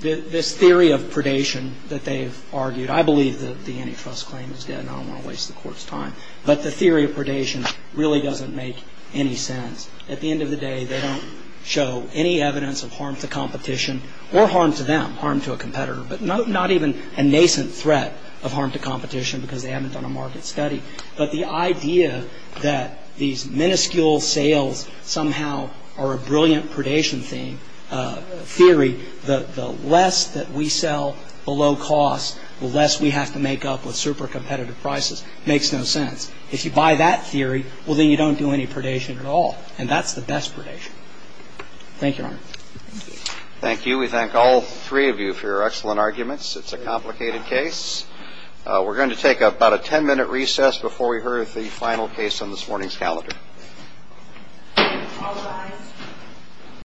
This theory of predation that they've argued, I believe that the antitrust claim is dead and I don't want to waste the court's time, but the theory of predation really doesn't make any sense. At the end of the day, they don't show any evidence of harm to competition or harm to them, harm to a competitor, but not even a nascent threat of harm to competition because they haven't done a market study. But the idea that these minuscule sales somehow are a brilliant predation theory, the less that we sell below cost, the less we have to make up with super competitive prices, makes no sense. If you buy that theory, well, then you don't do any predation at all, and that's the best predation. Thank you, Your Honor. Thank you. We thank all three of you for your excellent arguments. It's a complicated case. We're going to take about a ten-minute recess before we hear the final case on this morning's calendar.